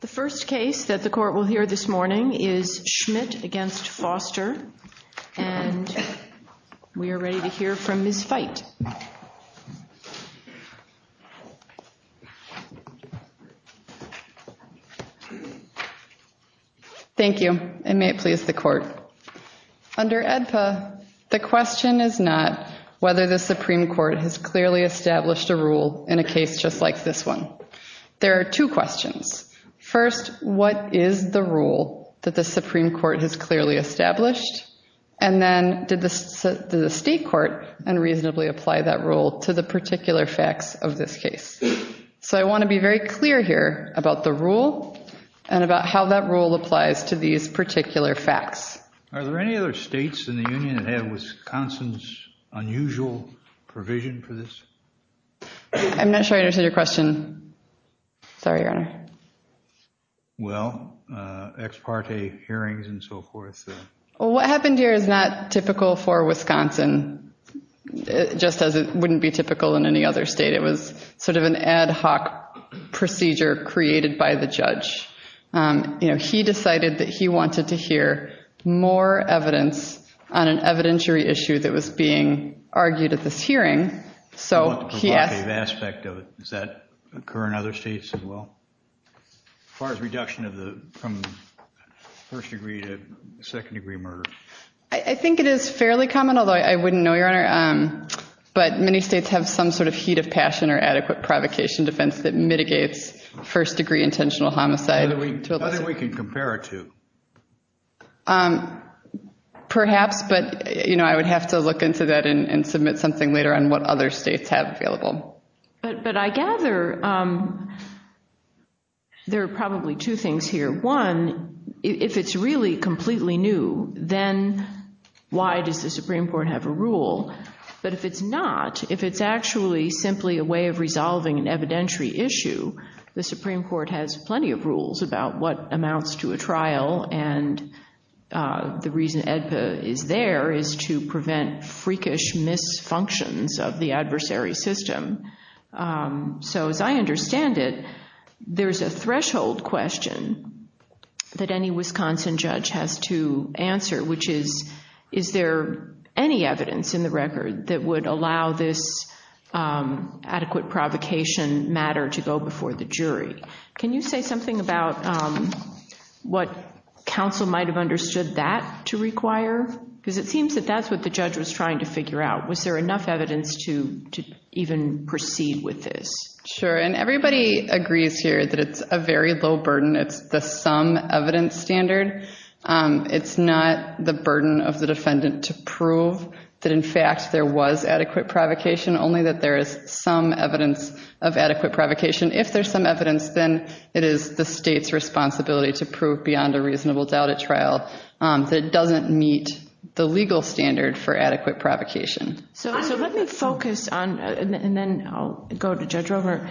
The first case that the court will hear this morning is Schmidt v. Foster, and we are ready to hear from Ms. Feit. Thank you, and may it please the court. Under AEDPA, the question is not whether the Supreme Court has clearly established a rule in a case just like this one. There are two questions. First, what is the rule that the Supreme Court has clearly established? And then, did the state court unreasonably apply that rule to the particular facts of this case? So I want to be very clear here about the rule and about how that rule applies to these particular facts. Are there any other states in the Union that have Wisconsin's unusual provision for this? I'm not sure I understood your question. Sorry, Your Honor. Well, ex parte hearings and so forth. Well, what happened here is not typical for Wisconsin, just as it wouldn't be typical in any other state. It was sort of an ad hoc procedure created by the judge. You know, he decided that he wanted to hear more evidence on an evidentiary issue that was being argued at this hearing. The provocative aspect of it, does that occur in other states as well? As far as reduction from first degree to second degree murder? I think it is fairly common, although I wouldn't know, Your Honor. But many states have some sort of heat of passion or adequate provocation defense that mitigates first degree intentional homicide. How do we compare it to? Perhaps, but I would have to look into that and submit something later on what other states have available. But I gather there are probably two things here. One, if it's really completely new, then why does the Supreme Court have a rule? But if it's not, if it's actually simply a way of resolving an evidentiary issue, the Supreme Court has plenty of rules about what amounts to a trial. And the reason AEDPA is there is to prevent freakish misfunctions of the adversary system. So as I understand it, there's a threshold question that any Wisconsin judge has to answer, which is, is there any evidence in the record that would allow this adequate provocation matter to go before the jury? Can you say something about what counsel might have understood that to require? Because it seems that that's what the judge was trying to figure out. Was there enough evidence to even proceed with this? Sure, and everybody agrees here that it's a very low burden. It's the some evidence standard. It's not the burden of the defendant to prove that, in fact, there was adequate provocation, only that there is some evidence of adequate provocation. If there's some evidence, then it is the state's responsibility to prove beyond a reasonable doubt at trial that it doesn't meet the legal standard for adequate provocation. So let me focus on, and then I'll go to Judge Rover,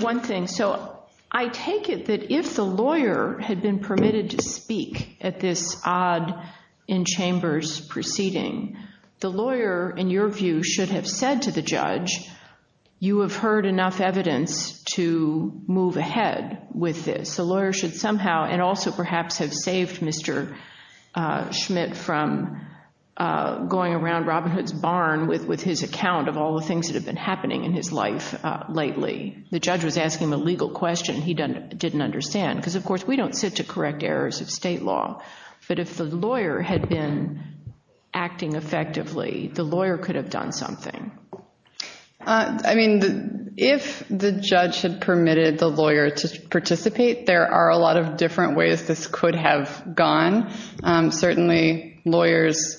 one thing. So I take it that if the lawyer had been permitted to speak at this odd in-chambers proceeding, the lawyer, in your view, should have said to the judge, you have heard enough evidence to move ahead with this. The lawyer should somehow and also perhaps have saved Mr. Schmidt from going around Robin Hood's barn with his account of all the things that have been happening in his life lately. The judge was asking him a legal question he didn't understand, because, of course, we don't sit to correct errors of state law. But if the lawyer had been acting effectively, the lawyer could have done something. I mean, if the judge had permitted the lawyer to participate, there are a lot of different ways this could have gone. Certainly, lawyers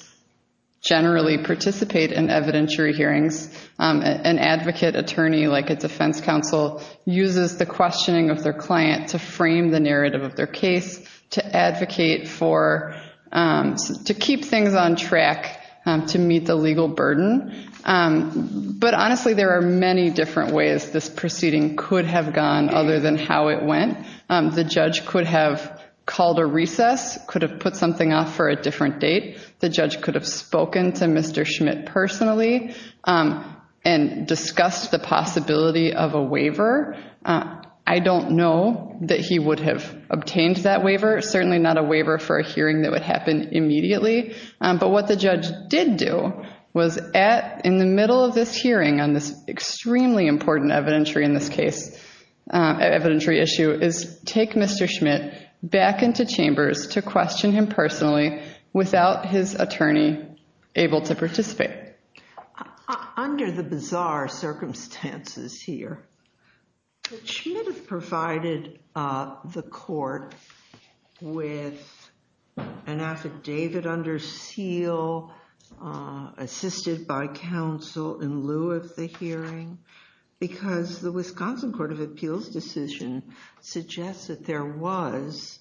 generally participate in evidentiary hearings. An advocate attorney like a defense counsel uses the questioning of their client to frame the narrative of their case, to advocate for, to keep things on track to meet the legal burden. But, honestly, there are many different ways this proceeding could have gone other than how it went. The judge could have called a recess, could have put something off for a different date. The judge could have spoken to Mr. Schmidt personally. And discussed the possibility of a waiver. I don't know that he would have obtained that waiver. Certainly not a waiver for a hearing that would happen immediately. But what the judge did do was at, in the middle of this hearing, on this extremely important evidentiary in this case, evidentiary issue, is take Mr. Schmidt back into chambers to question him personally without his attorney able to participate. Under the bizarre circumstances here, Schmidt provided the court with an affidavit under seal, assisted by counsel in lieu of the hearing, because the Wisconsin Court of Appeals decision suggests that there was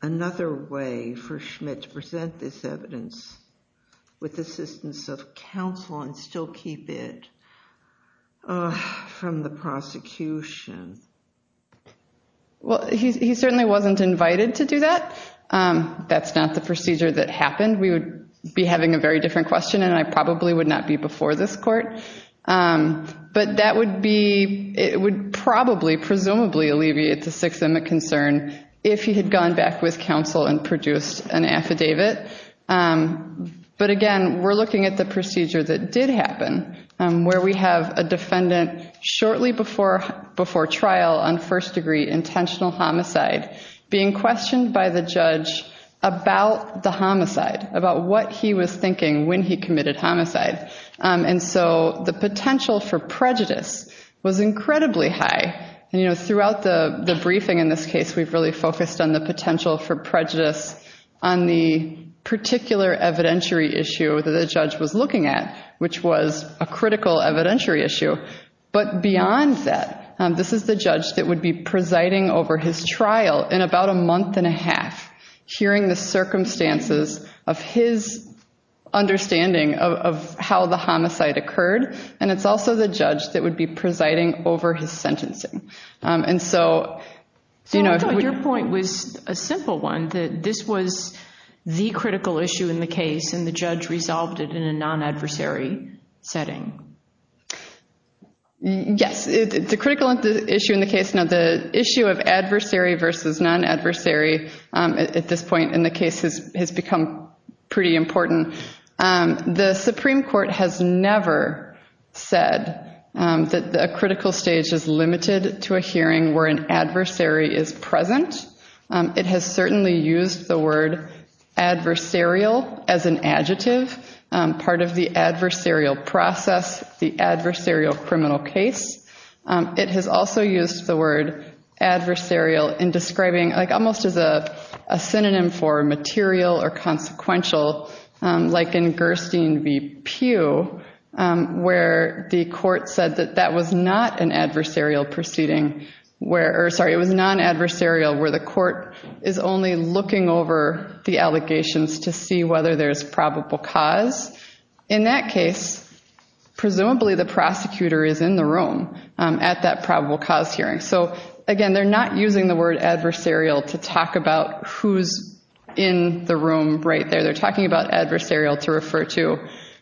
another way for Schmidt to present this evidence with assistance of counsel and still keep it from the prosecution. Well, he certainly wasn't invited to do that. That's not the procedure that happened. We would be having a very different question, and I probably would not be before this court. But that would be, it would probably, presumably alleviate the systemic concern if he had gone back with counsel and produced an affidavit. But again, we're looking at the procedure that did happen, where we have a defendant shortly before trial on first-degree intentional homicide being questioned by the judge about the homicide, about what he was thinking when he committed homicide. And so the potential for prejudice was incredibly high. And, you know, throughout the briefing in this case, we've really focused on the potential for prejudice on the particular evidentiary issue that the judge was looking at, which was a critical evidentiary issue. But beyond that, this is the judge that would be presiding over his trial in about a month and a half, hearing the circumstances of his understanding of how the homicide occurred. And it's also the judge that would be presiding over his sentencing. And so, you know, if we— So I thought your point was a simple one, that this was the critical issue in the case, and the judge resolved it in a non-adversary setting. Yes. The critical issue in the case, now, the issue of adversary versus non-adversary at this point in the case has become pretty important. The Supreme Court has never said that a critical stage is limited to a hearing where an adversary is present. It has certainly used the word adversarial as an adjective, part of the adversarial process, the adversarial criminal case. It has also used the word adversarial in describing— like almost as a synonym for material or consequential, like in Gerstein v. Pugh, where the court said that that was not an adversarial proceeding where— or sorry, it was non-adversarial where the court is only looking over the allegations to see whether there's probable cause. In that case, presumably the prosecutor is in the room at that probable cause hearing. So, again, they're not using the word adversarial to talk about who's in the room right there. They're talking about adversarial to refer to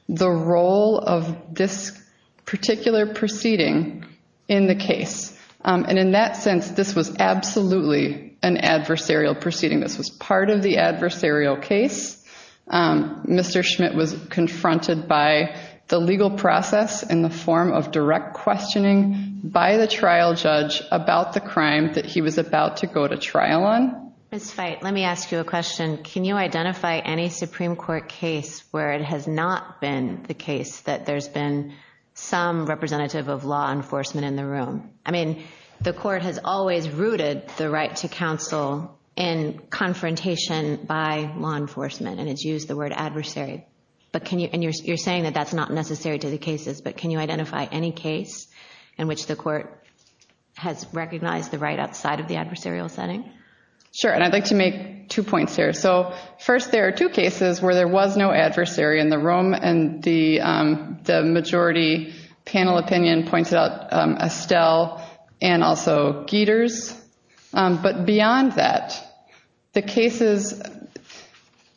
the role of this particular proceeding in the case. And in that sense, this was absolutely an adversarial proceeding. This was part of the adversarial case. Mr. Schmidt was confronted by the legal process in the form of direct questioning by the trial judge about the crime that he was about to go to trial on. Ms. Feit, let me ask you a question. Can you identify any Supreme Court case where it has not been the case that there's been some representative of law enforcement in the room? I mean, the court has always rooted the right to counsel in confrontation by law enforcement, and it's used the word adversary. And you're saying that that's not necessary to the cases, but can you identify any case in which the court has recognized the right outside of the adversarial setting? Sure, and I'd like to make two points here. So, first, there are two cases where there was no adversary in the room, and the majority panel opinion pointed out Estelle and also Geters. But beyond that, the cases,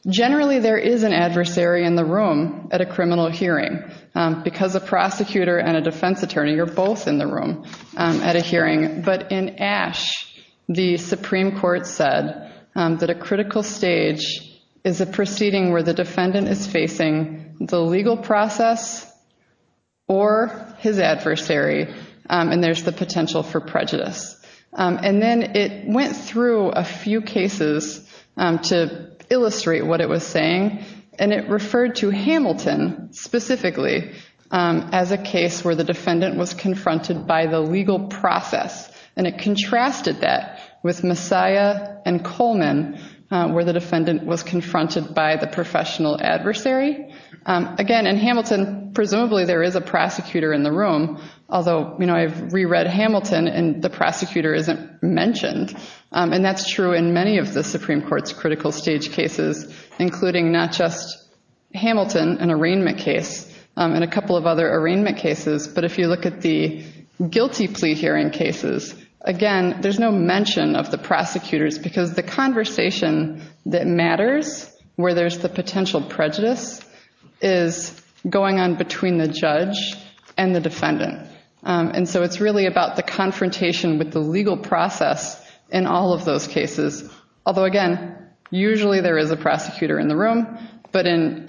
generally there is an adversary in the room at a criminal hearing because a prosecutor and a defense attorney are both in the room at a hearing. But in Ashe, the Supreme Court said that a critical stage is a proceeding where the defendant is facing the legal process or his adversary, and there's the potential for prejudice. And then it went through a few cases to illustrate what it was saying, and it referred to Hamilton specifically as a case where the defendant was confronted by the legal process, and it contrasted that with Messiah and Coleman, where the defendant was confronted by the professional adversary. Again, in Hamilton, presumably there is a prosecutor in the room, although I've re-read Hamilton and the prosecutor isn't mentioned. And that's true in many of the Supreme Court's critical stage cases, including not just Hamilton, an arraignment case, and a couple of other arraignment cases. But if you look at the guilty plea hearing cases, again, there's no mention of the prosecutors because the conversation that matters, where there's the potential prejudice, is going on between the judge and the defendant. And so it's really about the confrontation with the legal process in all of those cases. Although, again, usually there is a prosecutor in the room, but in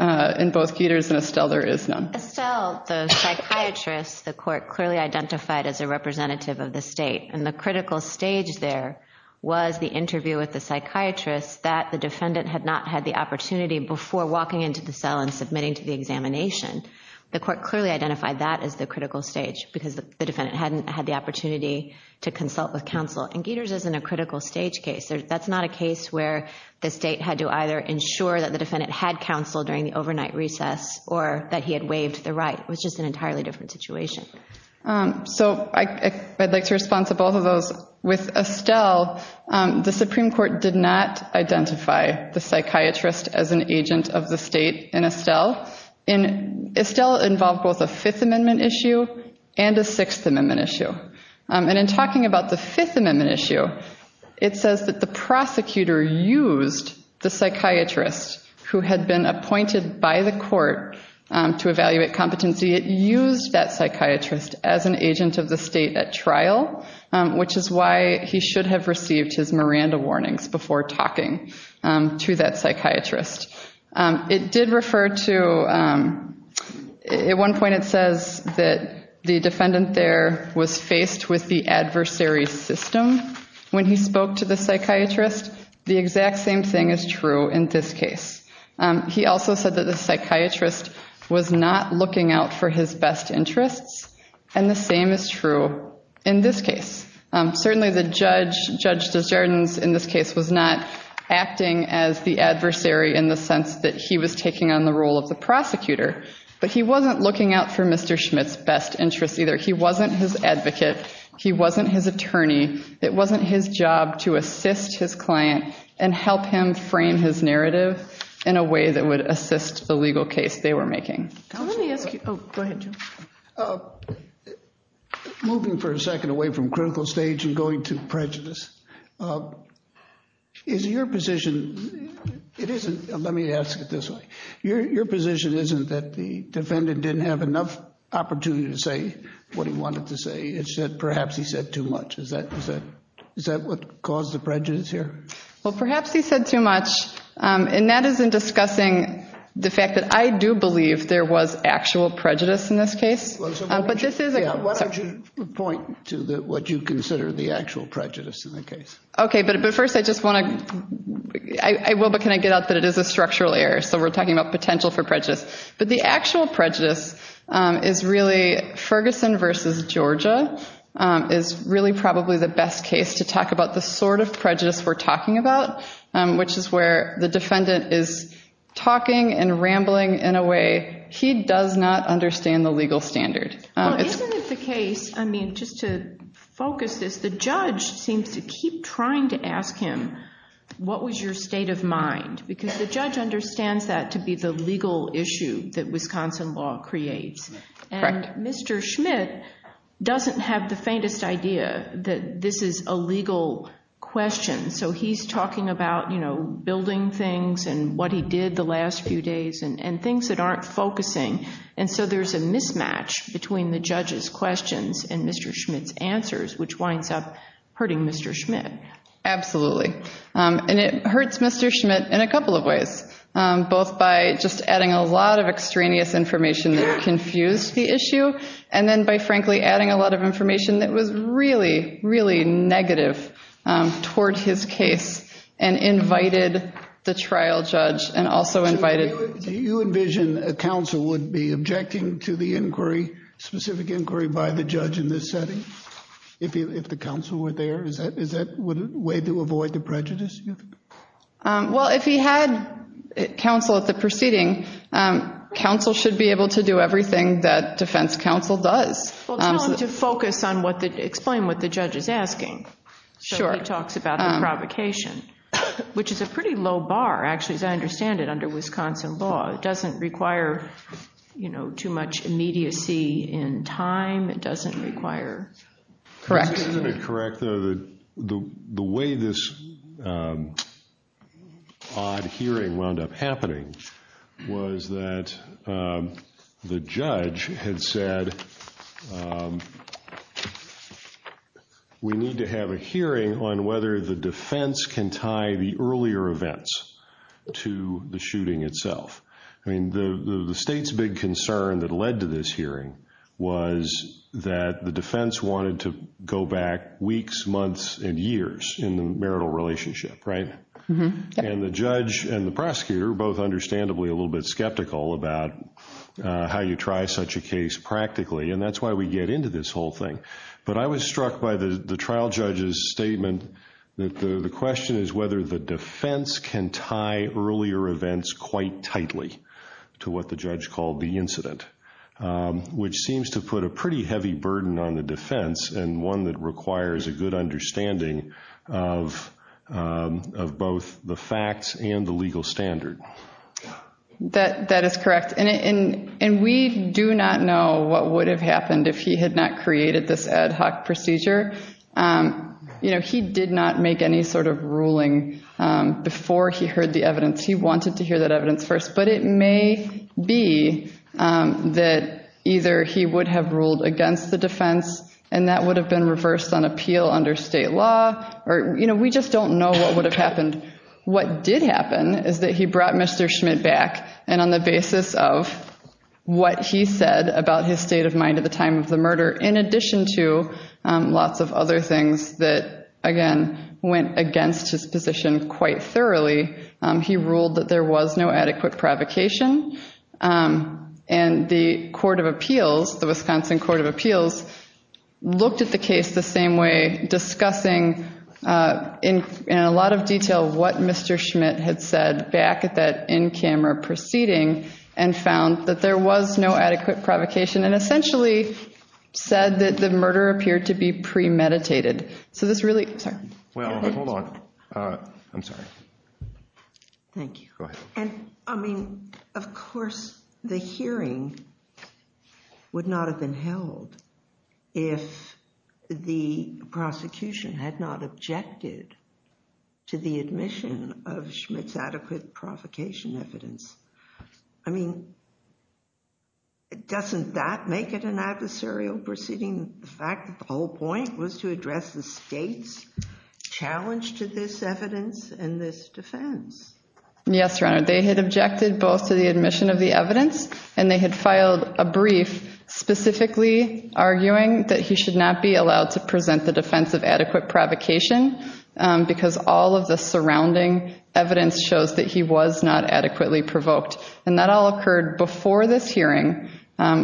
both Geters and Estelle there is none. Estelle, the psychiatrist, the court clearly identified as a representative of the state, and the critical stage there was the interview with the psychiatrist that the defendant had not had the opportunity before walking into the cell and submitting to the examination. The court clearly identified that as the critical stage because the defendant hadn't had the opportunity to consult with counsel. And Geters isn't a critical stage case. That's not a case where the state had to either ensure that the defendant had counsel during the overnight recess or that he had waived the right. It was just an entirely different situation. So I'd like to respond to both of those. With Estelle, the Supreme Court did not identify the psychiatrist as an agent of the state in Estelle. Estelle involved both a Fifth Amendment issue and a Sixth Amendment issue. And in talking about the Fifth Amendment issue, it says that the prosecutor used the psychiatrist who had been appointed by the court to evaluate competency. It used that psychiatrist as an agent of the state at trial, which is why he should have received his Miranda warnings before talking to that psychiatrist. It did refer to at one point it says that the defendant there was faced with the adversary system when he spoke to the psychiatrist. The exact same thing is true in this case. He also said that the psychiatrist was not looking out for his best interests, and the same is true in this case. Certainly the judge, Judge Desjardins in this case, was not acting as the adversary in the sense that he was taking on the role of the prosecutor, but he wasn't looking out for Mr. Schmidt's best interests either. He wasn't his advocate. He wasn't his attorney. It wasn't his job to assist his client and help him frame his narrative. in a way that would assist the legal case they were making. Moving for a second away from critical stage and going to prejudice, your position isn't that the defendant didn't have enough opportunity to say what he wanted to say. It's that perhaps he said too much. Is that what caused the prejudice here? Well, perhaps he said too much. And that is in discussing the fact that I do believe there was actual prejudice in this case. Why don't you point to what you consider the actual prejudice in the case? Okay, but first I just want to, I will, but can I get out that it is a structural error? So we're talking about potential for prejudice. But the actual prejudice is really Ferguson versus Georgia is really probably the best case to talk about the sort of prejudice we're talking about, which is where the defendant is talking and rambling in a way he does not understand the legal standard. Well, isn't it the case, I mean, just to focus this, the judge seems to keep trying to ask him, what was your state of mind? Because the judge understands that to be the legal issue that Wisconsin law creates. Correct. And Mr. Schmidt doesn't have the faintest idea that this is a legal question. So he's talking about, you know, building things and what he did the last few days and things that aren't focusing. And so there's a mismatch between the judge's questions and Mr. Schmidt's answers, which winds up hurting Mr. Schmidt. Absolutely. And it hurts Mr. Schmidt in a couple of ways, both by just adding a lot of extraneous information that confused the issue and then by, frankly, adding a lot of information that was really, really negative toward his case and invited the trial judge and also invited. Do you envision a counsel would be objecting to the inquiry, specific inquiry by the judge in this setting if the counsel were there? Is that a way to avoid the prejudice? Well, if he had counsel at the proceeding, counsel should be able to do everything that defense counsel does. Well, tell him to focus on what the ‑‑ explain what the judge is asking. Sure. So he talks about the provocation, which is a pretty low bar, actually, as I understand it, under Wisconsin law. It doesn't require, you know, too much immediacy in time. It doesn't require. Correct. Isn't it correct, though, that the way this odd hearing wound up happening was that the judge had said, we need to have a hearing on whether the defense can tie the earlier events to the shooting itself. I mean, the state's big concern that led to this hearing was that the defense wanted to go back weeks, months, and years in the marital relationship, right? And the judge and the prosecutor were both understandably a little bit skeptical about how you try such a case practically, and that's why we get into this whole thing. But I was struck by the trial judge's statement that the question is whether the defense can tie earlier events quite tightly to what the judge called the incident, which seems to put a pretty heavy burden on the defense and one that requires a good understanding of both the facts and the legal standard. That is correct. And we do not know what would have happened if he had not created this ad hoc procedure. You know, he did not make any sort of ruling before he heard the evidence. He wanted to hear that evidence first. But it may be that either he would have ruled against the defense, and that would have been reversed on appeal under state law. Or, you know, we just don't know what would have happened. What did happen is that he brought Mr. Schmidt back, and on the basis of what he said about his state of mind at the time of the murder, in addition to lots of other things that, again, went against his position quite thoroughly, he ruled that there was no adequate provocation. And the court of appeals, the Wisconsin court of appeals, looked at the case the same way, discussing in a lot of detail what Mr. Schmidt had said back at that in-camera proceeding and found that there was no adequate provocation and essentially said that the murder appeared to be premeditated. Well, hold on. I'm sorry. Thank you. Go ahead. I mean, of course the hearing would not have been held if the prosecution had not objected to the admission of Schmidt's adequate provocation evidence. I mean, doesn't that make it an adversarial proceeding, the fact that the whole point was to address the state's challenge to this evidence and this defense? Yes, Your Honor. They had objected both to the admission of the evidence, and they had filed a brief specifically arguing that he should not be allowed to present the defense of adequate provocation because all of the surrounding evidence shows that he was not adequately provoked. And that all occurred before this hearing,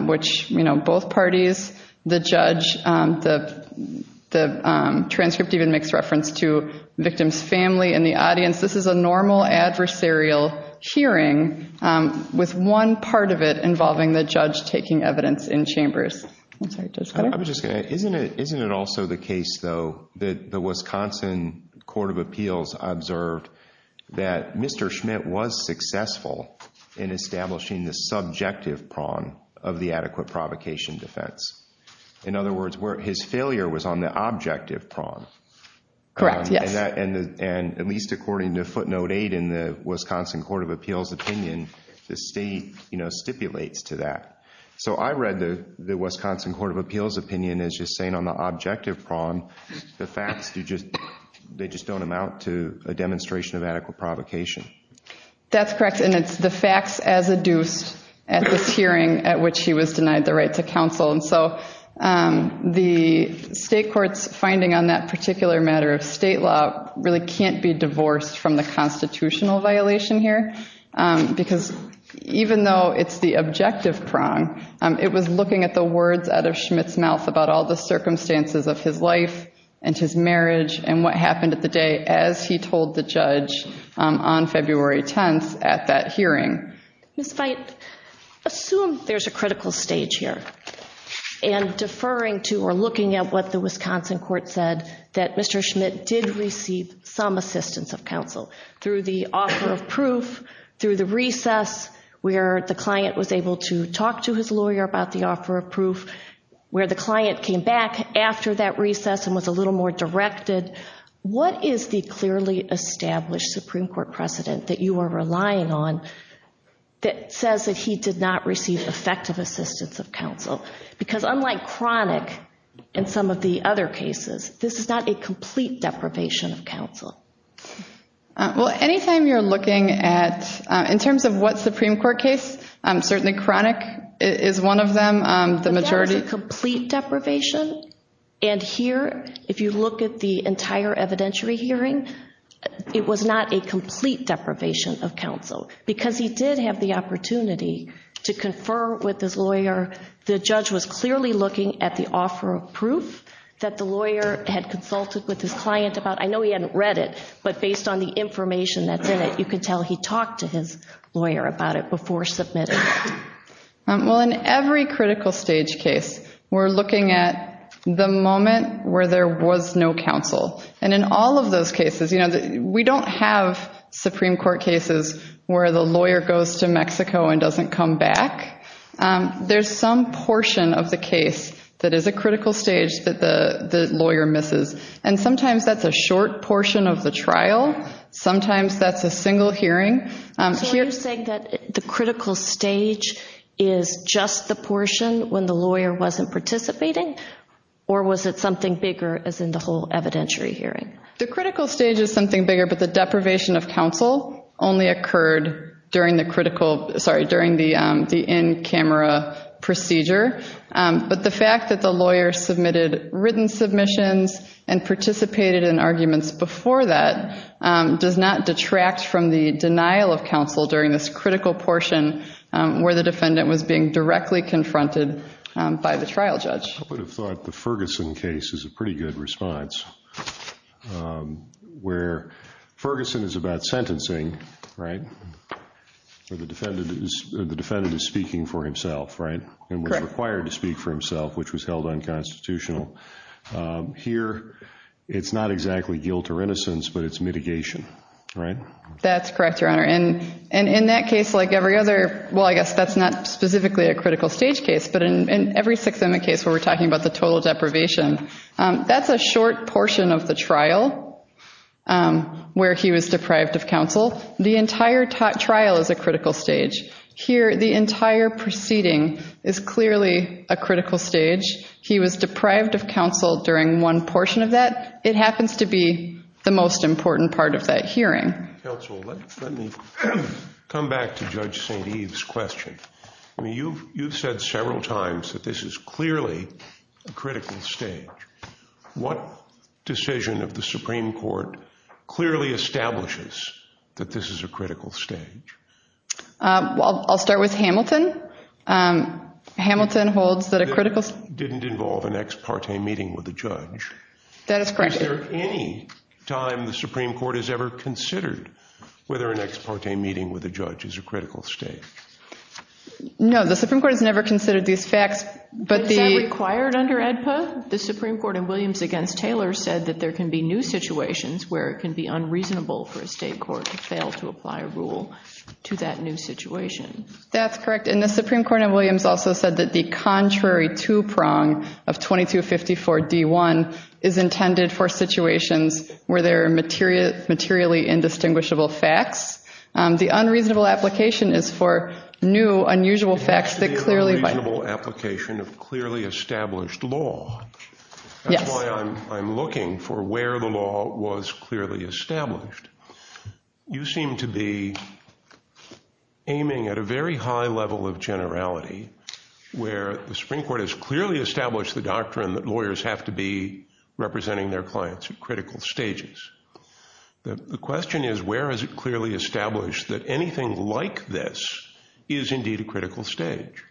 which, you know, both parties, the judge, the transcript even makes reference to victim's family in the audience. This is a normal adversarial hearing with one part of it involving the judge taking evidence in chambers. I'm sorry. Judge Ketter? Isn't it also the case, though, that the Wisconsin Court of Appeals observed that Mr. Schmidt was successful in establishing the subjective prong of the adequate provocation defense? In other words, his failure was on the objective prong. Correct, yes. And at least according to footnote eight in the Wisconsin Court of Appeals opinion, the state, you know, stipulates to that. So I read the Wisconsin Court of Appeals opinion as just saying on the objective prong, the facts, they just don't amount to a demonstration of adequate provocation. That's correct, and it's the facts as adduced at this hearing at which he was denied the right to counsel. And so the state court's finding on that particular matter of state law really can't be divorced from the constitutional violation here because even though it's the objective prong, it was looking at the words out of Schmidt's mouth about all the circumstances of his life and his marriage and what happened at the day as he told the judge on February 10th at that hearing. Ms. Veit, assume there's a critical stage here and deferring to or looking at what the Wisconsin court said, that Mr. Schmidt did receive some assistance of counsel through the offer of proof, through the recess where the client was able to talk to his lawyer about the offer of proof, where the client came back after that recess and was a little more directed. What is the clearly established Supreme Court precedent that you are relying on that says that he did not receive effective assistance of counsel? Because unlike Cronick and some of the other cases, this is not a complete deprivation of counsel. Well, any time you're looking at, in terms of what Supreme Court case, certainly Cronick is one of them. But that was a complete deprivation, and here, if you look at the entire evidentiary hearing, it was not a complete deprivation of counsel because he did have the opportunity to confer with his lawyer, the judge was clearly looking at the offer of proof that the lawyer had consulted with his client about. I know he hadn't read it, but based on the information that's in it, you can tell he talked to his lawyer about it before submitting it. Well, in every critical stage case, we're looking at the moment where there was no counsel. And in all of those cases, we don't have Supreme Court cases where the lawyer goes to Mexico and doesn't come back. There's some portion of the case that is a critical stage that the lawyer misses, and sometimes that's a short portion of the trial, sometimes that's a single hearing. So are you saying that the critical stage is just the portion when the lawyer wasn't participating, or was it something bigger as in the whole evidentiary hearing? The critical stage is something bigger, but the deprivation of counsel only occurred during the in-camera procedure. But the fact that the lawyer submitted written submissions and participated in arguments before that does not detract from the denial of counsel during this critical portion where the defendant was being directly confronted by the trial judge. I would have thought the Ferguson case is a pretty good response, where Ferguson is about sentencing, right? The defendant is speaking for himself, right? Correct. And was required to speak for himself, which was held unconstitutional. Here, it's not exactly guilt or innocence, but it's mitigation, right? That's correct, Your Honor. And in that case, like every other, well, I guess that's not specifically a critical stage case, but in every Sixth Amendment case where we're talking about the total deprivation, that's a short portion of the trial where he was deprived of counsel. The entire trial is a critical stage. Here, the entire proceeding is clearly a critical stage. He was deprived of counsel during one portion of that. It happens to be the most important part of that hearing. Counsel, let me come back to Judge St. Eve's question. I mean, you've said several times that this is clearly a critical stage. What decision of the Supreme Court clearly establishes that this is a critical stage? Well, I'll start with Hamilton. Hamilton holds that a critical stage. Didn't involve an ex parte meeting with a judge. That is correct. Is there any time the Supreme Court has ever considered whether an ex parte meeting with a judge is a critical stage? No, the Supreme Court has never considered these facts. Is that required under AEDPA? The Supreme Court in Williams against Taylor said that there can be new situations where it can be unreasonable for a state court to fail to apply a rule to that new situation. That's correct. And the Supreme Court in Williams also said that the contrary two-prong of 2254-D1 is intended for situations where there are materially indistinguishable facts. The unreasonable application is for new, unusual facts that clearly bind. It has to be an unreasonable application of clearly established law. Yes. That's why I'm looking for where the law was clearly established. You seem to be aiming at a very high level of generality where the Supreme Court has clearly established the doctrine that lawyers have to be representing their clients at critical stages. The question is where is it clearly established that anything like this is indeed a critical stage?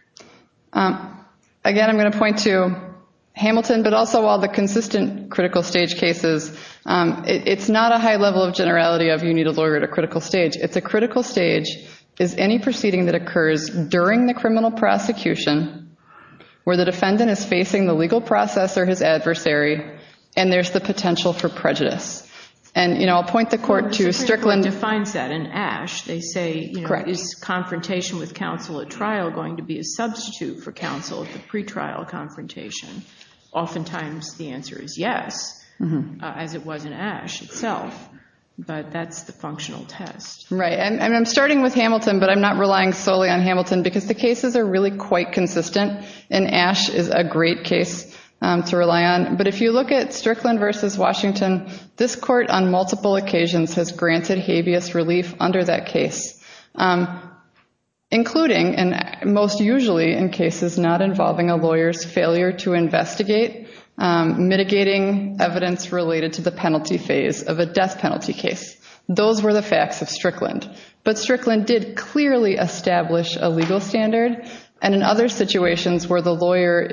Again, I'm going to point to Hamilton, but also all the consistent critical stage cases. It's not a high level of generality of you need a lawyer at a critical stage. It's a critical stage is any proceeding that occurs during the criminal prosecution where the defendant is facing the legal process or his adversary, and there's the potential for prejudice. And I'll point the court to Strickland. The Supreme Court defines that in Ashe. They say is confrontation with counsel at trial going to be a substitute for counsel at the pretrial confrontation? Oftentimes the answer is yes, as it was in Ashe itself. But that's the functional test. Right. And I'm starting with Hamilton, but I'm not relying solely on Hamilton, because the cases are really quite consistent, and Ashe is a great case to rely on. But if you look at Strickland v. Washington, this court on multiple occasions has granted habeas relief under that case, including and most usually in cases not involving a lawyer's failure to investigate, mitigating evidence related to the penalty phase of a death penalty case. Those were the facts of Strickland. But Strickland did clearly establish a legal standard, and in other situations where the lawyer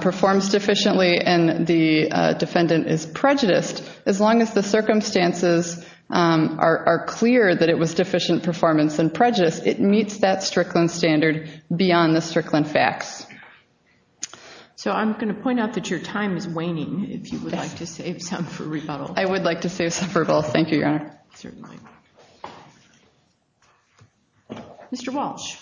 performs deficiently and the defendant is prejudiced, as long as the circumstances are clear that it was deficient performance and prejudice, it meets that Strickland standard beyond the Strickland facts. So I'm going to point out that your time is waning, if you would like to save some for rebuttal. I would like to save some for rebuttal. Thank you, Your Honor. Certainly. Mr. Walsh.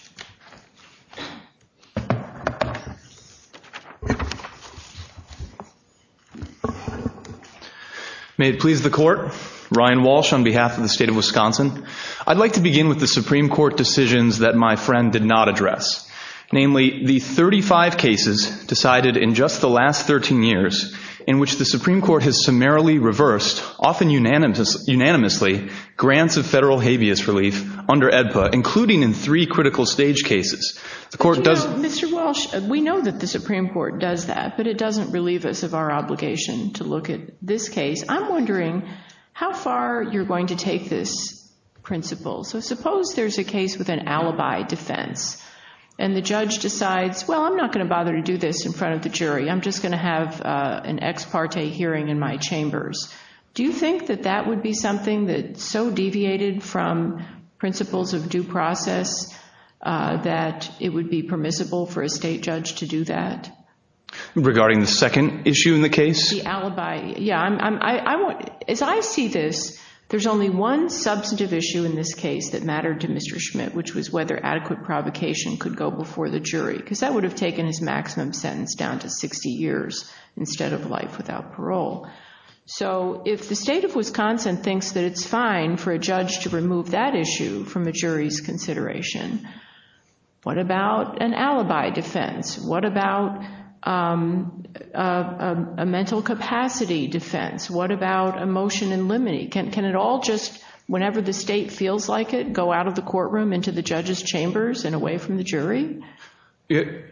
May it please the Court. Ryan Walsh on behalf of the State of Wisconsin. I'd like to begin with the Supreme Court decisions that my friend did not address, namely the 35 cases decided in just the last 13 years in which the Supreme Court has summarily reversed, often unanimously, grants of federal habeas relief under AEDPA, including in three critical stage cases. You know, Mr. Walsh, we know that the Supreme Court does that, but it doesn't relieve us of our obligation to look at this case. I'm wondering how far you're going to take this principle. So suppose there's a case with an alibi defense, and the judge decides, well, I'm not going to bother to do this in front of the jury. I'm just going to have an ex parte hearing in my chambers. Do you think that that would be something that's so deviated from principles of due process that it would be permissible for a state judge to do that? Regarding the second issue in the case? The alibi. Yeah, as I see this, there's only one substantive issue in this case that mattered to Mr. Schmidt, which was whether adequate provocation could go before the jury, because that would have taken his maximum sentence down to 60 years instead of life without parole. So if the state of Wisconsin thinks that it's fine for a judge to remove that issue from a jury's consideration, what about an alibi defense? What about a mental capacity defense? What about a motion in limine? Can it all just, whenever the state feels like it, go out of the courtroom into the judge's chambers and away from the jury?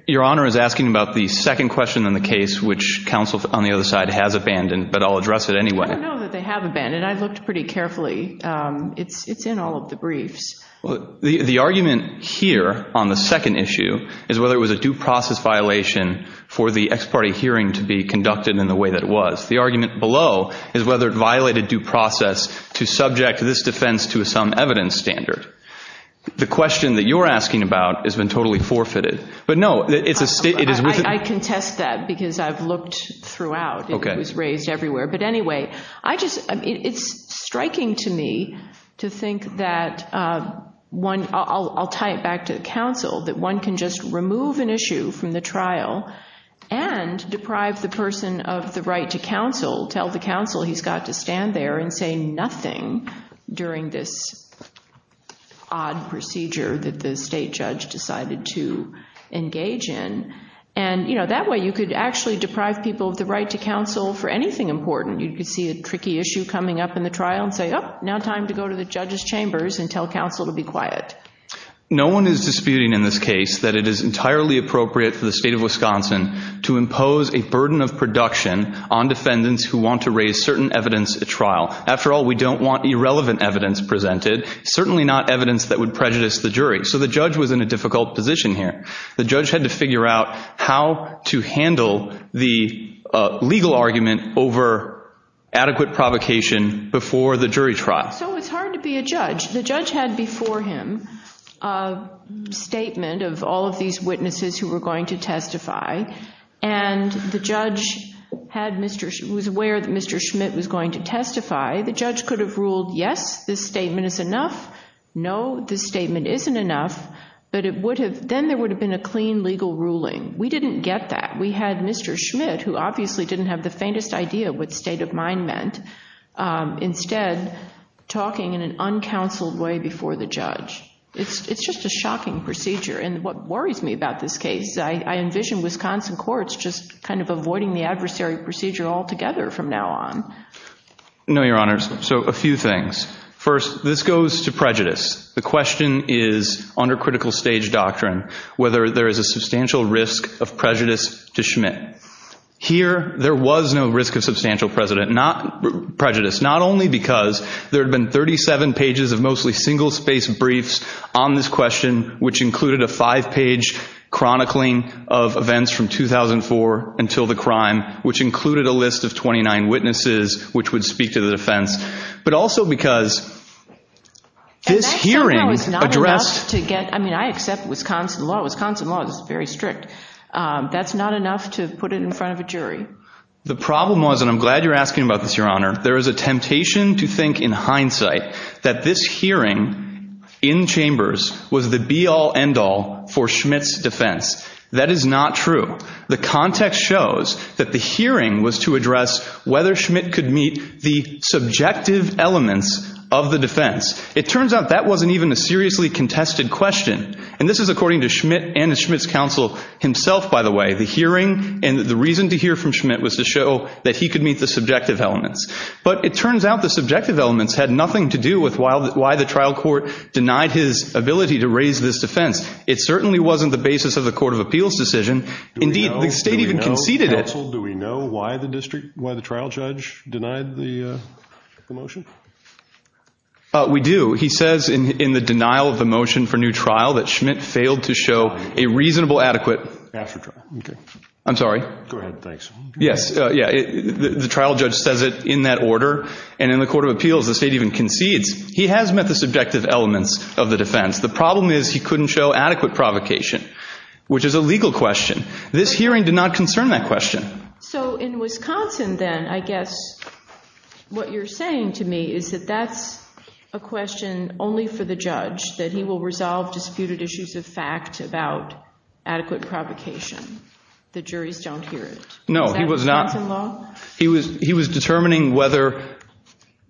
Your Honor is asking about the second question in the case, which counsel on the other side has abandoned, but I'll address it anyway. I don't know that they have abandoned. I looked pretty carefully. It's in all of the briefs. Well, the argument here on the second issue is whether it was a due process violation for the ex parte hearing to be conducted in the way that it was. The argument below is whether it violated due process to subject this defense to some evidence standard. The question that you're asking about has been totally forfeited. But no, it's a state. I contest that because I've looked throughout. It was raised everywhere. But anyway, I just, it's striking to me to think that one, I'll tie it back to counsel, that one can just remove an issue from the trial and deprive the person of the right to counsel, tell the counsel he's got to stand there and say nothing during this odd procedure that the state judge decided to engage in. And, you know, that way you could actually deprive people of the right to counsel for anything important. You could see a tricky issue coming up in the trial and say, oh, now time to go to the judge's chambers and tell counsel to be quiet. No one is disputing in this case that it is entirely appropriate for the state of Wisconsin to impose a burden of production on defendants who want to raise certain evidence at trial. After all, we don't want irrelevant evidence presented, certainly not evidence that would prejudice the jury. So the judge was in a difficult position here. The judge had to figure out how to handle the legal argument over adequate provocation before the jury trial. So it's hard to be a judge. The judge had before him a statement of all of these witnesses who were going to testify, and the judge was aware that Mr. Schmidt was going to testify. The judge could have ruled, yes, this statement is enough, no, this statement isn't enough, but then there would have been a clean legal ruling. We didn't get that. We had Mr. Schmidt, who obviously didn't have the faintest idea what state of mind meant, instead talking in an uncounseled way before the judge. It's just a shocking procedure, and what worries me about this case, I envision Wisconsin courts just kind of avoiding the adversary procedure altogether from now on. No, Your Honors. So a few things. First, this goes to prejudice. The question is, under critical stage doctrine, whether there is a substantial risk of prejudice to Schmidt. Here, there was no risk of substantial prejudice, not only because there had been 37 pages of mostly single-space briefs on this question, which included a five-page chronicling of events from 2004 until the crime, which included a list of 29 witnesses which would speak to the defense, but also because this hearing addressed – And that somehow is not enough to get – I mean, I accept Wisconsin law. Wisconsin law is very strict. That's not enough to put it in front of a jury. The problem was, and I'm glad you're asking about this, Your Honor, there is a temptation to think in hindsight that this hearing in chambers was the be-all, end-all for Schmidt's defense. That is not true. The context shows that the hearing was to address whether Schmidt could meet the subjective elements of the defense. It turns out that wasn't even a seriously contested question, and this is according to Schmidt and Schmidt's counsel himself, by the way. The hearing and the reason to hear from Schmidt was to show that he could meet the subjective elements. But it turns out the subjective elements had nothing to do with why the trial court denied his ability to raise this defense. It certainly wasn't the basis of the court of appeals decision. Indeed, the state even conceded it. Do we know, counsel, do we know why the district – why the trial judge denied the motion? We do. He says in the denial of the motion for new trial that Schmidt failed to show a reasonable adequate – After trial, okay. I'm sorry. Go ahead, thanks. Yes, yeah, the trial judge says it in that order, and in the court of appeals the state even concedes. He has met the subjective elements of the defense. The problem is he couldn't show adequate provocation, which is a legal question. This hearing did not concern that question. So in Wisconsin, then, I guess what you're saying to me is that that's a question only for the judge, that he will resolve disputed issues of fact about adequate provocation. The juries don't hear it. No, he was not – Is that Wisconsin law? He was determining whether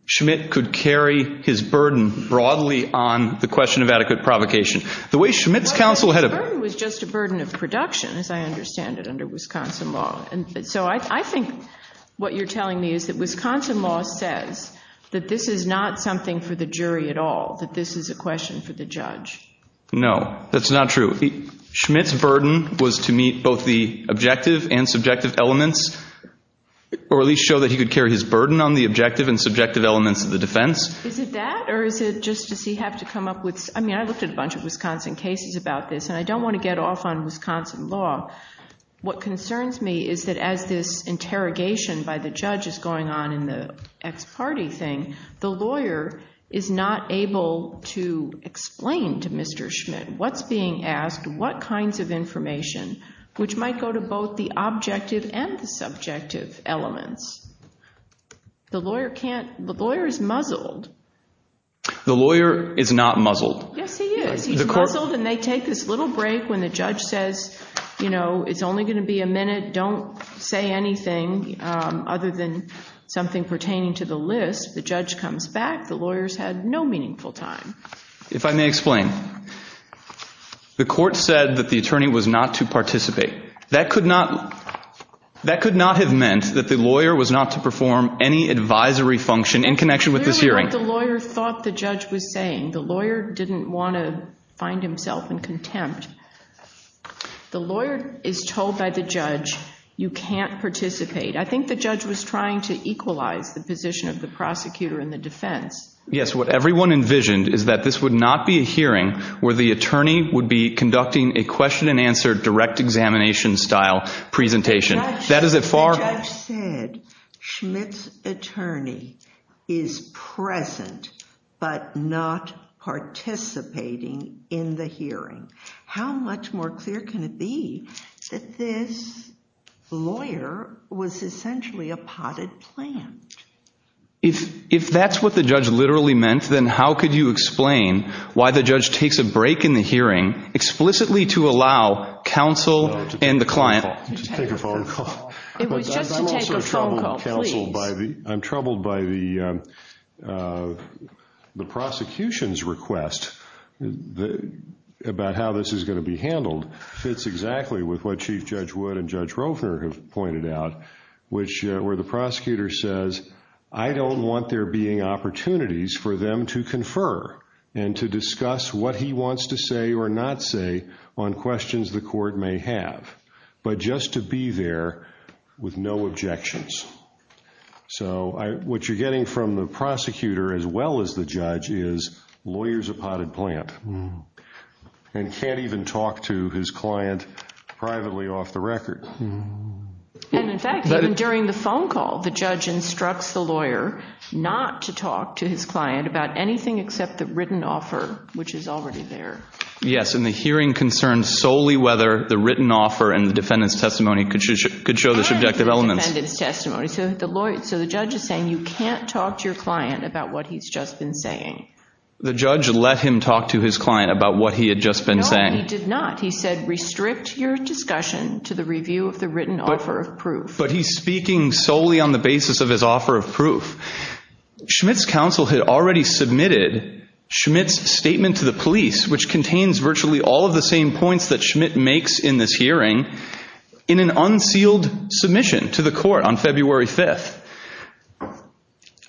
Schmidt could carry his burden broadly on the question of adequate provocation. The way Schmidt's counsel had – The burden was just a burden of production, as I understand it, under Wisconsin law. And so I think what you're telling me is that Wisconsin law says that this is not something for the jury at all, that this is a question for the judge. No, that's not true. Schmidt's burden was to meet both the objective and subjective elements, or at least show that he could carry his burden on the objective and subjective elements of the defense. Is it that, or is it just does he have to come up with – I don't want to get off on Wisconsin law. What concerns me is that as this interrogation by the judge is going on in the ex parte thing, the lawyer is not able to explain to Mr. Schmidt what's being asked, what kinds of information, which might go to both the objective and the subjective elements. The lawyer can't – the lawyer is muzzled. The lawyer is not muzzled. Yes, he is. He's muzzled, and they take this little break when the judge says, you know, it's only going to be a minute. Don't say anything other than something pertaining to the list. The judge comes back. The lawyer's had no meaningful time. If I may explain, the court said that the attorney was not to participate. That could not have meant that the lawyer was not to perform any advisory function in connection with this hearing. Clearly what the lawyer thought the judge was saying. The lawyer didn't want to find himself in contempt. The lawyer is told by the judge you can't participate. I think the judge was trying to equalize the position of the prosecutor in the defense. Yes, what everyone envisioned is that this would not be a hearing where the attorney would be conducting a question and answer direct examination style presentation. The judge said Schmidt's attorney is present but not participating in the hearing. How much more clear can it be that this lawyer was essentially a potted plant? If that's what the judge literally meant, then how could you explain why the judge takes a break in the hearing explicitly to allow counsel and the client. Just take a phone call. It was just to take a phone call, please. I'm troubled by the prosecution's request about how this is going to be handled. It fits exactly with what Chief Judge Wood and Judge Rovner have pointed out, where the prosecutor says I don't want there being opportunities for them to confer and to discuss what he wants to say or not say on questions the court may have, but just to be there with no objections. So what you're getting from the prosecutor as well as the judge is lawyer's a potted plant and can't even talk to his client privately off the record. In fact, even during the phone call, the judge instructs the lawyer not to talk to his client about anything except the written offer, which is already there. Yes, and the hearing concerns solely whether the written offer and the defendant's testimony could show the subjective elements. And the defendant's testimony. So the judge is saying you can't talk to your client about what he's just been saying. The judge let him talk to his client about what he had just been saying. No, he did not. He said restrict your discussion to the review of the written offer of proof. But he's speaking solely on the basis of his offer of proof. Schmitt's counsel had already submitted Schmitt's statement to the police, which contains virtually all of the same points that Schmitt makes in this hearing, in an unsealed submission to the court on February 5th.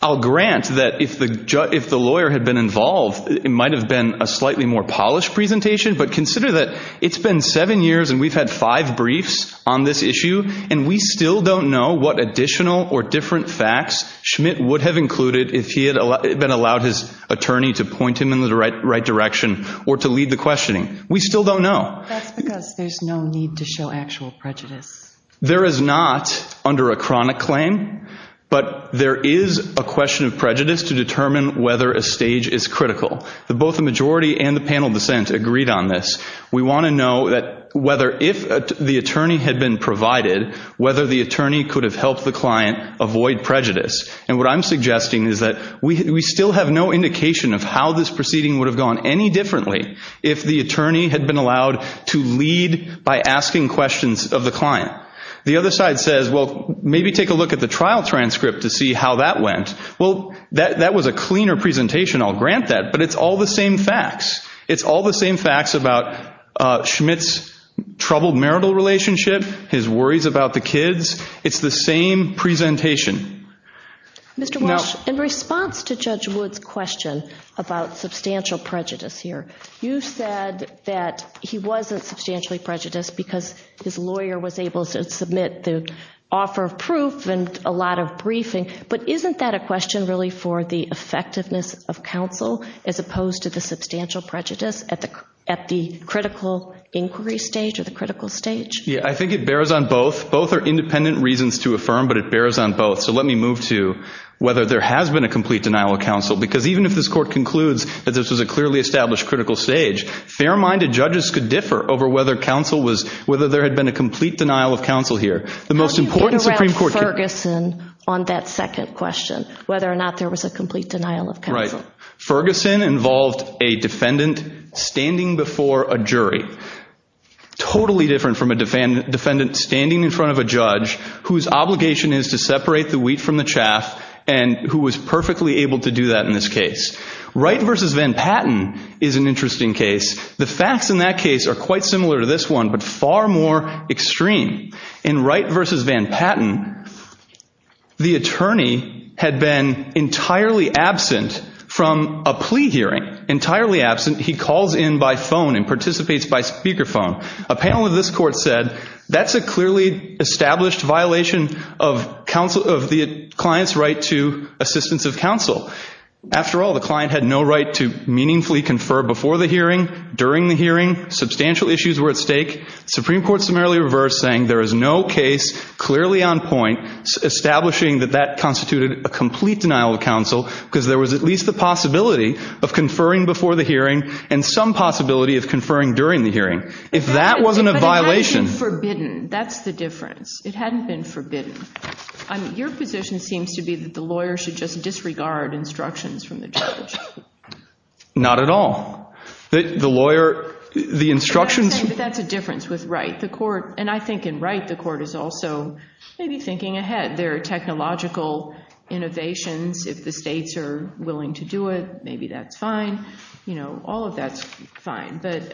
I'll grant that if the lawyer had been involved, it might have been a slightly more polished presentation, but consider that it's been seven years and we've had five briefs on this issue and we still don't know what additional or different facts Schmitt would have included if he had been allowed his attorney to point him in the right direction or to lead the questioning. We still don't know. That's because there's no need to show actual prejudice. There is not under a chronic claim, but there is a question of prejudice to determine whether a stage is critical. Both the majority and the panel dissent agreed on this. We want to know that whether if the attorney had been provided, whether the attorney could have helped the client avoid prejudice. And what I'm suggesting is that we still have no indication of how this proceeding would have gone any differently if the attorney had been allowed to lead by asking questions of the client. The other side says, well, maybe take a look at the trial transcript to see how that went. Well, that was a cleaner presentation. I'll grant that, but it's all the same facts. It's all the same facts about Schmitt's troubled marital relationship, his worries about the kids. It's the same presentation. Mr. Walsh, in response to Judge Wood's question about substantial prejudice here, you said that he wasn't substantially prejudiced because his lawyer was able to submit the offer of proof and a lot of briefing, but isn't that a question really for the effectiveness of counsel as opposed to the substantial prejudice at the critical inquiry stage or the critical stage? Yeah, I think it bears on both. Both are independent reasons to affirm, but it bears on both. So let me move to whether there has been a complete denial of counsel because even if this court concludes that this was a clearly established critical stage, fair-minded judges could differ over whether there had been a complete denial of counsel here. How do you get around Ferguson on that second question, whether or not there was a complete denial of counsel? Ferguson involved a defendant standing before a jury. Totally different from a defendant standing in front of a judge whose obligation is to separate the wheat from the chaff and who was perfectly able to do that in this case. Wright v. Van Patten is an interesting case. The facts in that case are quite similar to this one, but far more extreme. In Wright v. Van Patten, the attorney had been entirely absent from a plea hearing, entirely absent. He calls in by phone and participates by speakerphone. A panel of this court said that's a clearly established violation of the client's right to assistance of counsel. After all, the client had no right to meaningfully confer before the hearing, during the hearing. Substantial issues were at stake. The Supreme Court summarily reversed, saying there is no case clearly on point, establishing that that constituted a complete denial of counsel because there was at least the possibility of conferring before the hearing and some possibility of conferring during the hearing. If that wasn't a violation— But it hadn't been forbidden. That's the difference. It hadn't been forbidden. Your position seems to be that the lawyer should just disregard instructions from the judge. Not at all. The lawyer—the instructions— But that's a difference with Wright. And I think in Wright, the court is also maybe thinking ahead. There are technological innovations. If the states are willing to do it, maybe that's fine. All of that's fine. But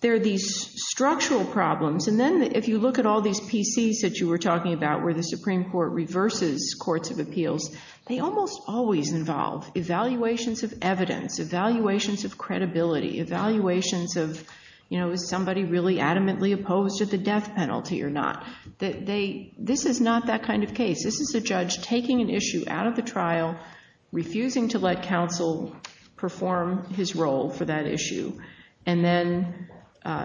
there are these structural problems. And then if you look at all these PCs that you were talking about, where the Supreme Court reverses courts of appeals, they almost always involve evaluations of evidence, evaluations of credibility, evaluations of, you know, is somebody really adamantly opposed to the death penalty or not? This is not that kind of case. This is a judge taking an issue out of the trial, refusing to let counsel perform his role for that issue, and then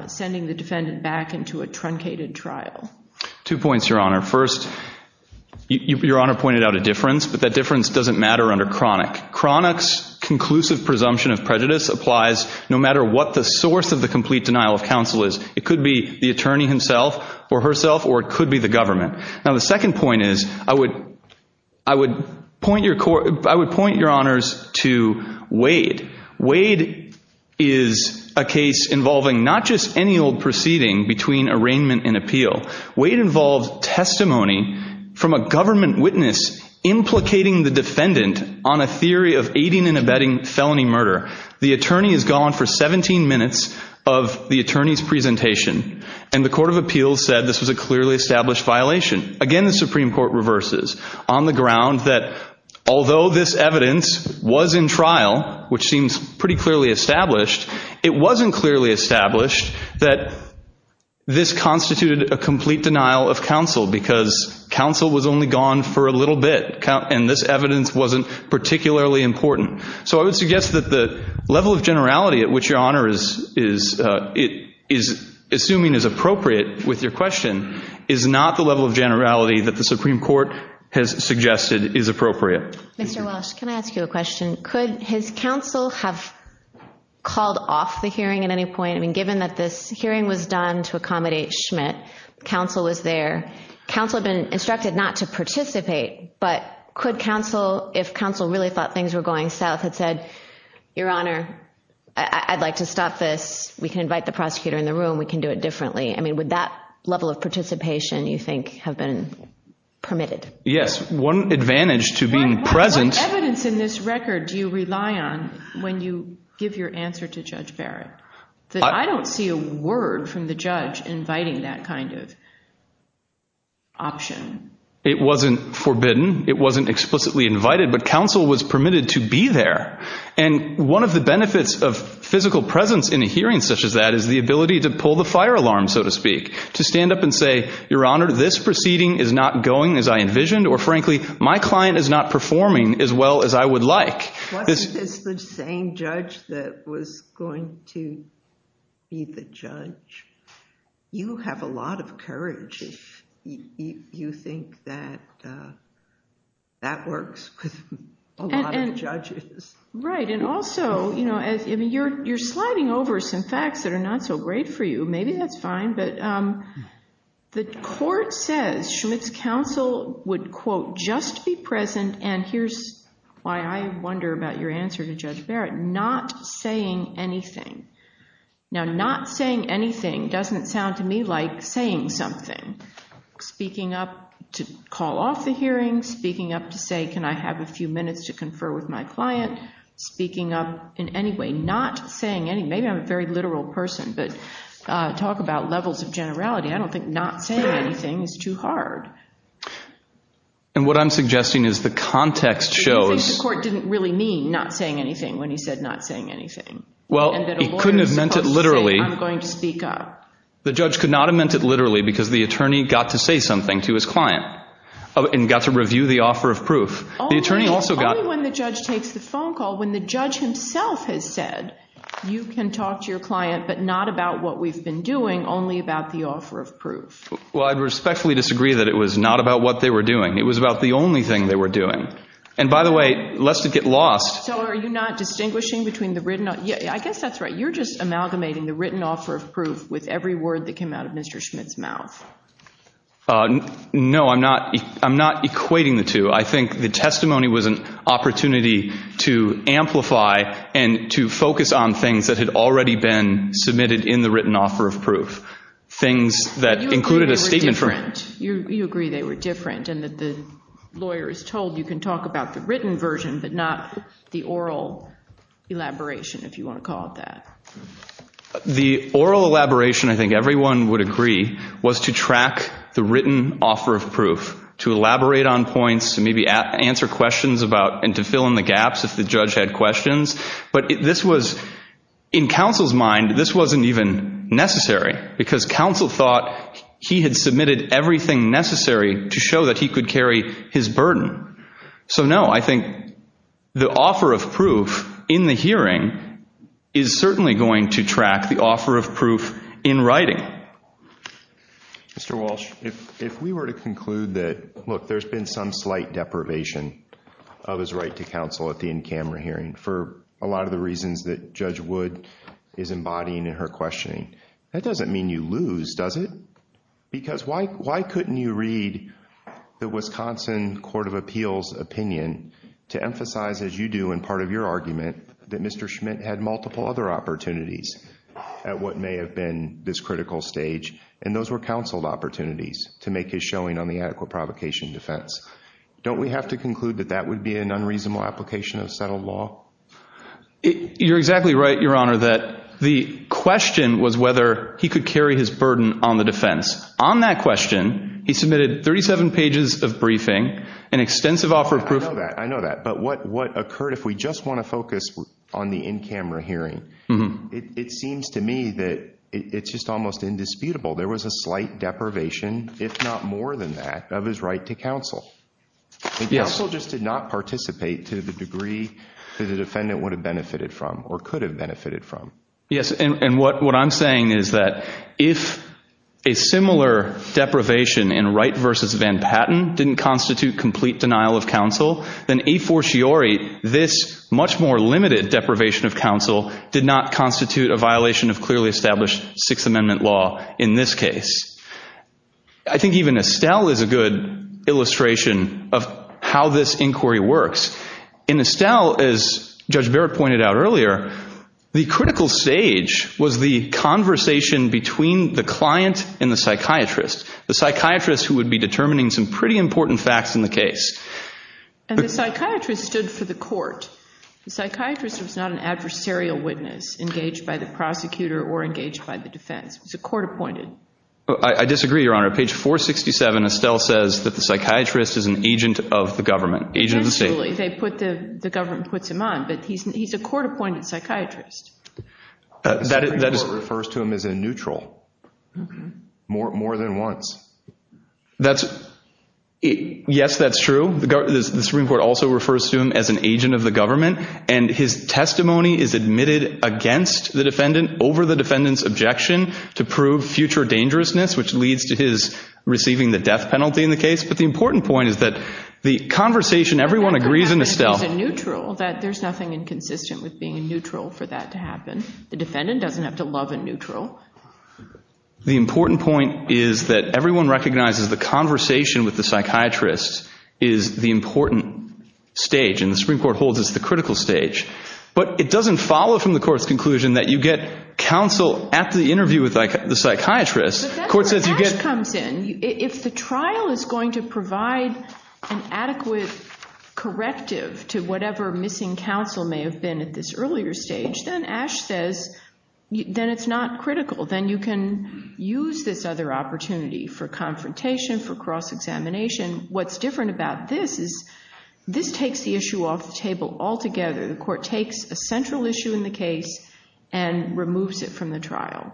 sending the defendant back into a truncated trial. Two points, Your Honor. First, Your Honor pointed out a difference, but that difference doesn't matter under chronic. Chronic's conclusive presumption of prejudice applies no matter what the source of the complete denial of counsel is. It could be the attorney himself or herself, or it could be the government. Now, the second point is I would point your honors to Wade. Wade is a case involving not just any old proceeding between arraignment and appeal. Wade involved testimony from a government witness implicating the defendant on a theory of aiding and abetting felony murder. The attorney is gone for 17 minutes of the attorney's presentation, and the court of appeals said this was a clearly established violation. Again, the Supreme Court reverses on the ground that although this evidence was in trial, which seems pretty clearly established, it wasn't clearly established that this constituted a complete denial of counsel because counsel was only gone for a little bit, and this evidence wasn't particularly important. So I would suggest that the level of generality at which Your Honor is assuming is appropriate with your question is not the level of generality that the Supreme Court has suggested is appropriate. Mr. Walsh, can I ask you a question? Could his counsel have called off the hearing at any point? I mean given that this hearing was done to accommodate Schmidt, counsel was there. Counsel had been instructed not to participate, but could counsel if counsel really thought things were going south had said, Your Honor, I'd like to stop this. We can invite the prosecutor in the room. We can do it differently. I mean would that level of participation you think have been permitted? Yes. One advantage to being present. What evidence in this record do you rely on when you give your answer to Judge Barrett? I don't see a word from the judge inviting that kind of option. It wasn't forbidden. It wasn't explicitly invited, but counsel was permitted to be there, and one of the benefits of physical presence in a hearing such as that is the ability to pull the fire alarm, so to speak, to stand up and say, Your Honor, this proceeding is not going as I envisioned, or frankly, my client is not performing as well as I would like. Wasn't this the same judge that was going to be the judge? You have a lot of courage if you think that that works with a lot of judges. Right, and also, you know, you're sliding over some facts that are not so great for you. Maybe that's fine. The court says Schmidt's counsel would, quote, just be present, and here's why I wonder about your answer to Judge Barrett, not saying anything. Now, not saying anything doesn't sound to me like saying something. Speaking up to call off the hearing, speaking up to say, Can I have a few minutes to confer with my client, speaking up in any way, not saying anything. Maybe I'm a very literal person, but talk about levels of generality. I don't think not saying anything is too hard. And what I'm suggesting is the context shows. You think the court didn't really mean not saying anything when he said not saying anything? Well, he couldn't have meant it literally. I'm going to speak up. The judge could not have meant it literally because the attorney got to say something to his client and got to review the offer of proof. The attorney also got. Only when the judge takes the phone call, when the judge himself has said, You can talk to your client, but not about what we've been doing, only about the offer of proof. Well, I respectfully disagree that it was not about what they were doing. It was about the only thing they were doing. And by the way, lest it get lost. So are you not distinguishing between the written. I guess that's right. You're just amalgamating the written offer of proof with every word that came out of Mr. Schmidt's mouth. No, I'm not. I'm not equating the two. I think the testimony was an opportunity to amplify and to focus on things that had already been submitted in the written offer of proof, things that included a statement from him. You agree they were different and that the lawyer is told you can talk about the written version but not the oral elaboration, if you want to call it that. The oral elaboration, I think everyone would agree, was to track the written offer of proof, to elaborate on points, maybe answer questions about and to fill in the gaps if the judge had questions. But this was, in counsel's mind, this wasn't even necessary because counsel thought he had submitted everything necessary to show that he could carry his burden. So, no, I think the offer of proof in the hearing is certainly going to track the offer of proof in writing. Mr. Walsh, if we were to conclude that, look, there's been some slight deprivation of his right to counsel at the in-camera hearing for a lot of the reasons that Judge Wood is embodying in her questioning, that doesn't mean you lose, does it? Because why couldn't you read the Wisconsin Court of Appeals' opinion to emphasize, as you do in part of your argument, that Mr. Schmidt had multiple other opportunities at what may have been this critical stage and those were counseled opportunities to make his showing on the adequate provocation defense. Don't we have to conclude that that would be an unreasonable application of settled law? You're exactly right, Your Honor, that the question was whether he could carry his burden on the defense. On that question, he submitted 37 pages of briefing, an extensive offer of proof. I know that. I know that. But what occurred, if we just want to focus on the in-camera hearing, it seems to me that it's just almost indisputable. There was a slight deprivation, if not more than that, of his right to counsel. Counsel just did not participate to the degree that the defendant would have benefited from or could have benefited from. Yes, and what I'm saying is that if a similar deprivation in Wright v. Van Patten didn't constitute complete denial of counsel, then a fortiori this much more limited deprivation of counsel did not constitute a violation of clearly established Sixth Amendment law in this case. I think even Estelle is a good illustration of how this inquiry works. In Estelle, as Judge Barrett pointed out earlier, the critical stage was the conversation between the client and the psychiatrist. The psychiatrist, who would be determining some pretty important facts in the case. And the psychiatrist stood for the court. The psychiatrist was not an adversarial witness engaged by the prosecutor or engaged by the defense. He was a court-appointed. I disagree, Your Honor. Page 467, Estelle says that the psychiatrist is an agent of the government, agent of the state. They put the government puts him on, but he's a court-appointed psychiatrist. The Supreme Court refers to him as a neutral more than once. Yes, that's true. The Supreme Court also refers to him as an agent of the government. And his testimony is admitted against the defendant over the defendant's objection to prove future dangerousness, which leads to his receiving the death penalty in the case. But the important point is that the conversation, everyone agrees in Estelle. That he's a neutral, that there's nothing inconsistent with being a neutral for that to happen. The defendant doesn't have to love a neutral. The important point is that everyone recognizes the conversation with the psychiatrist is the important stage. And the Supreme Court holds it's the critical stage. But it doesn't follow from the court's conclusion that you get counsel at the interview with the psychiatrist. If the trial is going to provide an adequate corrective to whatever missing counsel may have been at this earlier stage, then Ash says, then it's not critical. Then you can use this other opportunity for confrontation, for cross-examination. What's different about this is this takes the issue off the table altogether. The court takes a central issue in the case and removes it from the trial.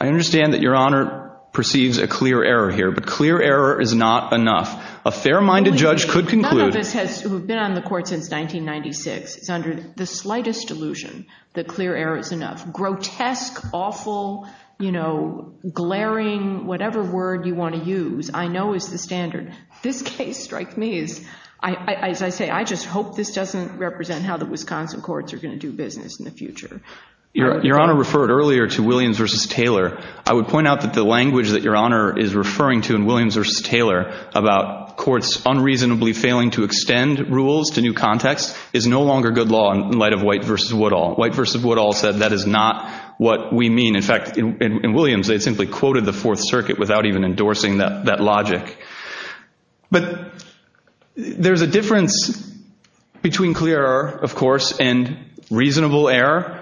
I understand that Your Honor perceives a clear error here, but clear error is not enough. A fair-minded judge could conclude. None of us who have been on the court since 1996 is under the slightest illusion that clear error is enough. Grotesque, awful, glaring, whatever word you want to use, I know is the standard. This case strikes me as, as I say, I just hope this doesn't represent how the Wisconsin courts are going to do business in the future. Your Honor referred earlier to Williams v. Taylor. I would point out that the language that Your Honor is referring to in Williams v. Taylor about courts unreasonably failing to extend rules to new contexts is no longer good law in light of White v. Woodall. White v. Woodall said that is not what we mean. In fact, in Williams, they simply quoted the Fourth Circuit without even endorsing that logic. But there's a difference between clear error, of course, and reasonable error.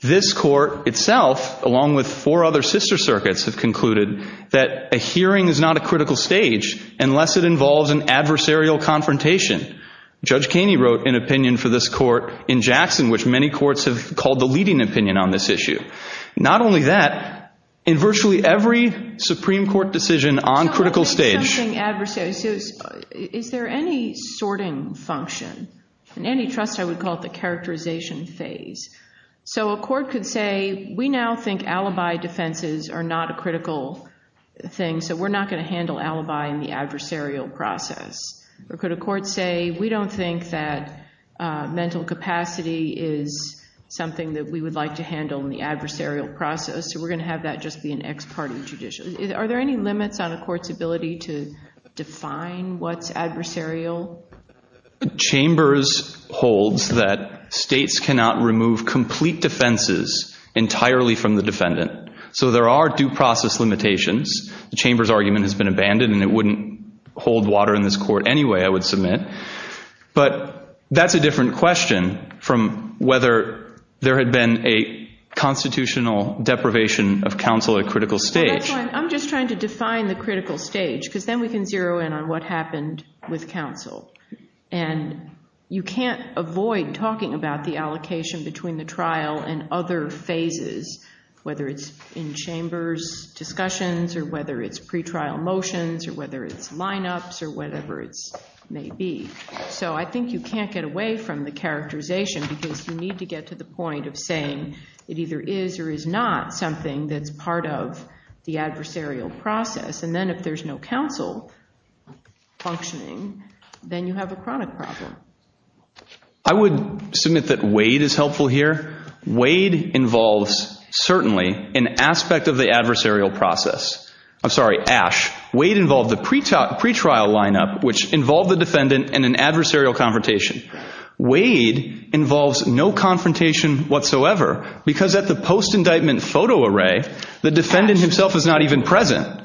This court itself, along with four other sister circuits, have concluded that a hearing is not a critical stage unless it involves an adversarial confrontation. Judge Kaney wrote an opinion for this court in Jackson, which many courts have called the leading opinion on this issue. Not only that, in virtually every Supreme Court decision on critical stage— So I think something adversarial. Is there any sorting function? In antitrust, I would call it the characterization phase. So a court could say, we now think alibi defenses are not a critical thing, so we're not going to handle alibi in the adversarial process. Or could a court say, we don't think that mental capacity is something that we would like to handle in the adversarial process, so we're going to have that just be an ex parte judicial. Are there any limits on a court's ability to define what's adversarial? Chambers holds that states cannot remove complete defenses entirely from the defendant. So there are due process limitations. The Chambers argument has been abandoned, and it wouldn't hold water in this court anyway, I would submit. But that's a different question from whether there had been a constitutional deprivation of counsel at critical stage. That's fine. I'm just trying to define the critical stage, because then we can zero in on what happened with counsel. And you can't avoid talking about the allocation between the trial and other phases, whether it's in Chambers discussions, or whether it's pretrial motions, or whether it's lineups, or whatever it may be. So I think you can't get away from the characterization, because you need to get to the point of saying it either is or is not something that's part of the adversarial process. And then if there's no counsel functioning, then you have a chronic problem. I would submit that Wade is helpful here. Wade involves certainly an aspect of the adversarial process. I'm sorry, Ash. Wade involved the pretrial lineup, which involved the defendant in an adversarial confrontation. Wade involves no confrontation whatsoever, because at the post-indictment photo array, the defendant himself is not even present.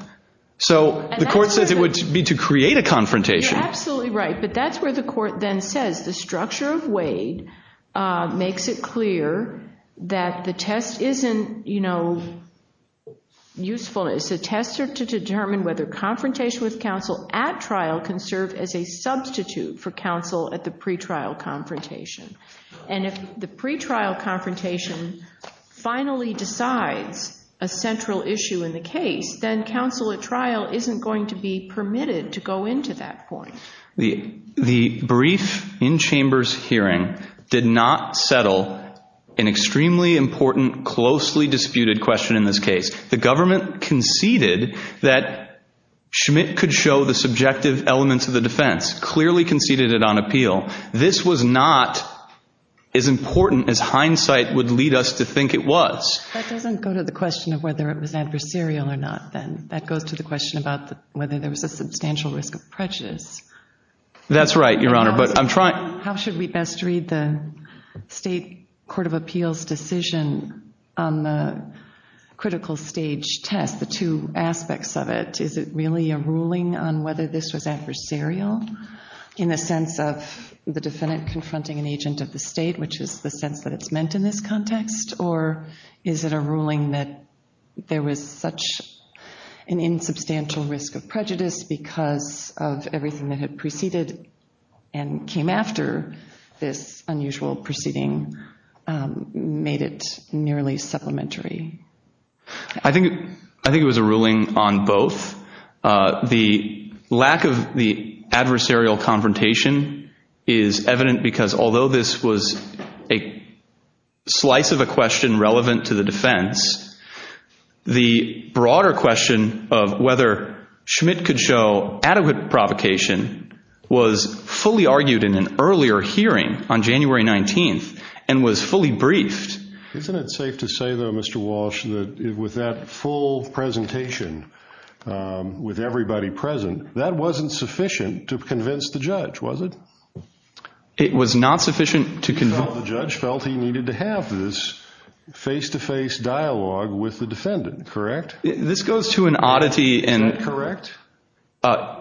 So the court says it would be to create a confrontation. You're absolutely right. But that's where the court then says the structure of Wade makes it clear that the test isn't useful. It's a tester to determine whether confrontation with counsel at trial can serve as a substitute for counsel at the pretrial confrontation. And if the pretrial confrontation finally decides a central issue in the case, then counsel at trial isn't going to be permitted to go into that point. The brief in-chambers hearing did not settle an extremely important, closely disputed question in this case. The government conceded that Schmidt could show the subjective elements of the defense, clearly conceded it on appeal. This was not as important as hindsight would lead us to think it was. That doesn't go to the question of whether it was adversarial or not, then. That goes to the question about whether there was a substantial risk of prejudice. That's right, Your Honor. How should we best read the state court of appeals decision on the critical stage test, the two aspects of it? Is it really a ruling on whether this was adversarial in the sense of the defendant confronting an agent of the state, which is the sense that it's meant in this context, or is it a ruling that there was such an insubstantial risk of prejudice because of everything that had preceded and came after this unusual proceeding made it nearly supplementary? I think it was a ruling on both. The lack of the adversarial confrontation is evident because although this was a slice of a question relevant to the defense, the broader question of whether Schmidt could show adequate provocation was fully argued in an earlier hearing on January 19th and was fully briefed. Isn't it safe to say, though, Mr. Walsh, that with that full presentation, with everybody present, that wasn't sufficient to convince the judge, was it? It was not sufficient to convince... The judge felt he needed to have this face-to-face dialogue with the defendant, correct? This goes to an oddity in... Is that correct?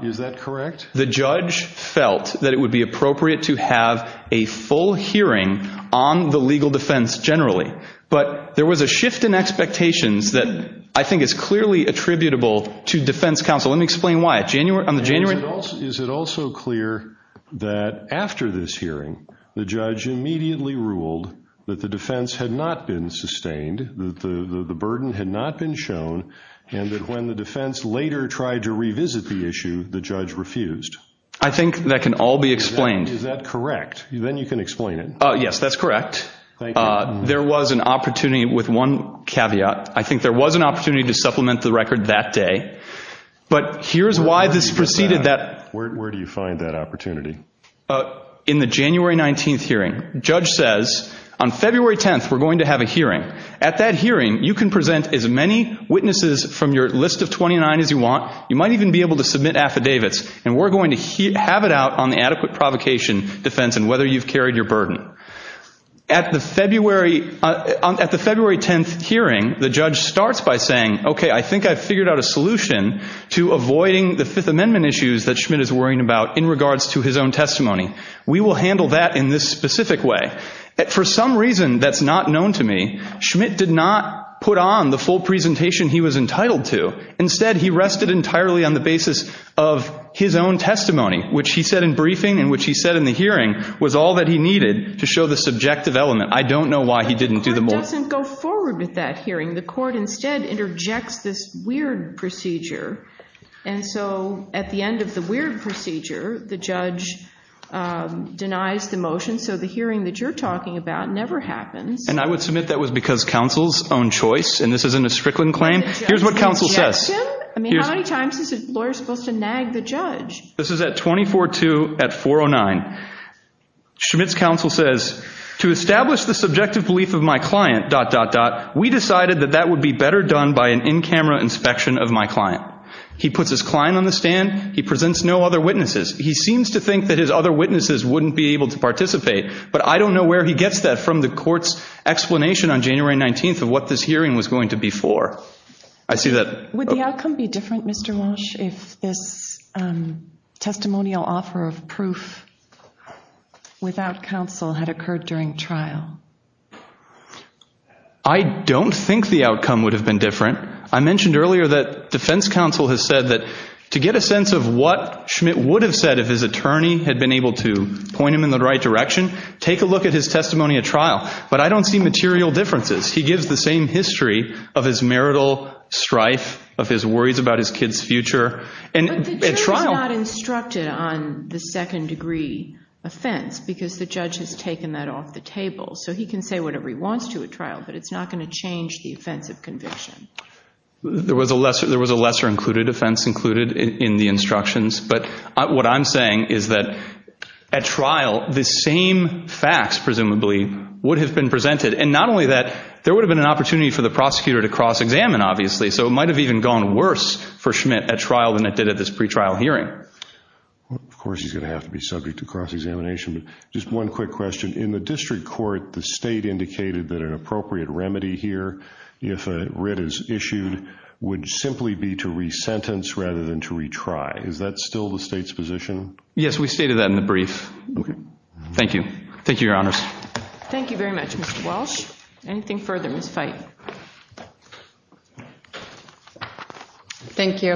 Is that correct? The judge felt that it would be appropriate to have a full hearing on the legal defense generally, but there was a shift in expectations that I think is clearly attributable to defense counsel. Let me explain why. On the January... Is it also clear that after this hearing, the judge immediately ruled that the defense had not been sustained, that the burden had not been shown, and that when the defense later tried to revisit the issue, the judge refused? I think that can all be explained. Is that correct? Then you can explain it. Yes, that's correct. Thank you. There was an opportunity with one caveat. I think there was an opportunity to supplement the record that day, but here's why this preceded that... Where do you find that opportunity? In the January 19th hearing. The judge says, on February 10th, we're going to have a hearing. At that hearing, you can present as many witnesses from your list of 29 as you want. You might even be able to submit affidavits, and we're going to have it out on the adequate provocation defense and whether you've carried your burden. At the February 10th hearing, the judge starts by saying, okay, I think I've figured out a solution to avoiding the Fifth Amendment issues that Schmitt is worrying about in regards to his own testimony. We will handle that in this specific way. For some reason that's not known to me, Schmitt did not put on the full presentation he was entitled to. Instead, he rested entirely on the basis of his own testimony, which he said in briefing and which he said in the hearing was all that he needed to show the subjective element. I don't know why he didn't do the more... The court instead interjects this weird procedure. And so at the end of the weird procedure, the judge denies the motion, so the hearing that you're talking about never happens. And I would submit that was because counsel's own choice, and this isn't a Strickland claim. Here's what counsel says. I mean, how many times is a lawyer supposed to nag the judge? This is at 24-2 at 4-09. Schmitt's counsel says, to establish the subjective belief of my client, dot, dot, dot, we decided that that would be better done by an in-camera inspection of my client. He puts his client on the stand. He presents no other witnesses. He seems to think that his other witnesses wouldn't be able to participate, but I don't know where he gets that from the court's explanation on January 19th of what this hearing was going to be for. I see that. Would the outcome be different, Mr. Walsh, if this testimonial offer of proof without counsel had occurred during trial? I don't think the outcome would have been different. I mentioned earlier that defense counsel has said that to get a sense of what Schmitt would have said if his attorney had been able to point him in the right direction, take a look at his testimony at trial. But I don't see material differences. He gives the same history of his marital strife, of his worries about his kid's future. But the judge is not instructed on the second-degree offense because the judge has taken that off the table. So he can say whatever he wants to at trial, but it's not going to change the offense of conviction. There was a lesser-included offense included in the instructions. But what I'm saying is that at trial, the same facts presumably would have been presented. And not only that, there would have been an opportunity for the prosecutor to cross-examine, obviously. So it might have even gone worse for Schmitt at trial than it did at this pretrial hearing. Of course he's going to have to be subject to cross-examination. Just one quick question. In the district court, the state indicated that an appropriate remedy here, if a writ is issued, would simply be to resentence rather than to retry. Is that still the state's position? Yes, we stated that in the brief. Okay. Thank you. Thank you, Your Honors. Thank you very much, Mr. Walsh. Anything further? Ms. Fite. Thank you.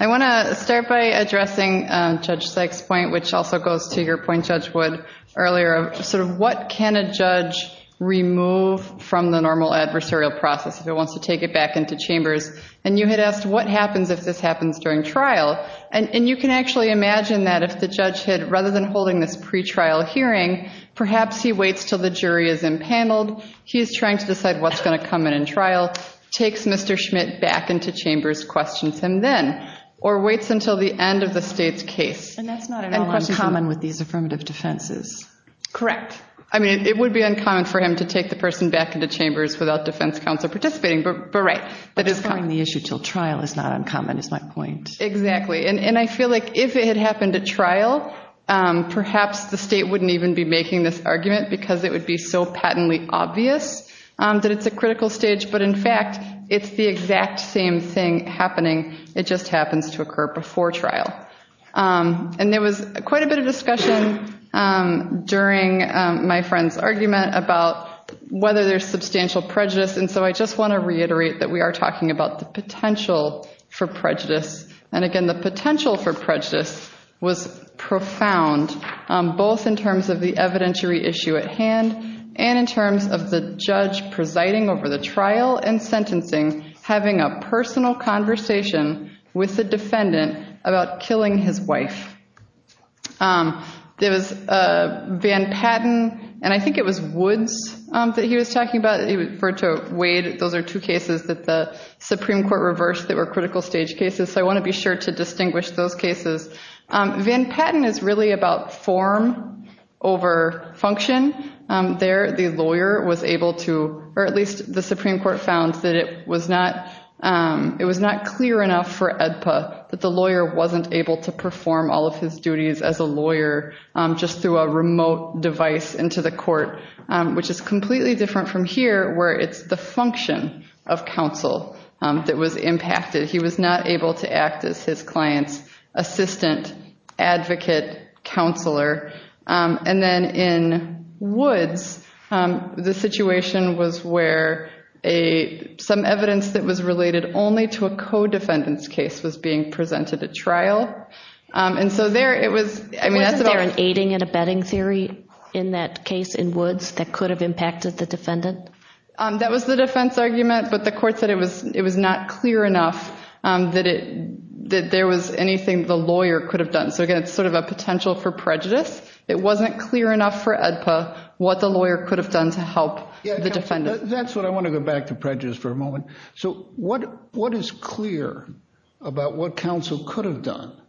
I want to start by addressing Judge Sykes' point, which also goes to your point, Judge Wood, earlier. Sort of what can a judge remove from the normal adversarial process if it wants to take it back into chambers? And you had asked what happens if this happens during trial. And you can actually imagine that if the judge had, rather than holding this pretrial hearing, perhaps he waits until the jury is impaneled, he's trying to decide what's going to come in in trial, takes Mr. Schmidt back into chambers, questions him then, or waits until the end of the state's case. And that's not at all uncommon with these affirmative defenses. Correct. I mean, it would be uncommon for him to take the person back into chambers without defense counsel participating. But right. But deferring the issue until trial is not uncommon is my point. Exactly. And I feel like if it had happened at trial, perhaps the state wouldn't even be making this argument because it would be so patently obvious that it's a critical stage. But, in fact, it's the exact same thing happening. It just happens to occur before trial. And there was quite a bit of discussion during my friend's argument about whether there's substantial prejudice. And so I just want to reiterate that we are talking about the potential for prejudice. And, again, the potential for prejudice was profound, both in terms of the evidentiary issue at hand and in terms of the judge presiding over the trial and sentencing having a personal conversation with the defendant about killing his wife. There was Van Patten, and I think it was Woods that he was talking about. He referred to Wade. Those are two cases that the Supreme Court reversed that were critical stage cases. So I want to be sure to distinguish those cases. Van Patten is really about form over function. There the lawyer was able to, or at least the Supreme Court found that it was not clear enough for AEDPA that the lawyer wasn't able to perform all of his duties as a lawyer just through a remote device into the court, which is completely different from here where it's the function of counsel that was impacted. He was not able to act as his client's assistant, advocate, counselor. And then in Woods, the situation was where some evidence that was related only to a co-defendant's case was being presented at trial. And so there it was. Wasn't there an aiding and abetting theory in that case in Woods that could have impacted the defendant? That was the defense argument, but the court said it was not clear enough that there was anything the lawyer could have done. So, again, it's sort of a potential for prejudice. It wasn't clear enough for AEDPA what the lawyer could have done to help the defendant. That's what I want to go back to prejudice for a moment. So what is clear about what counsel could have done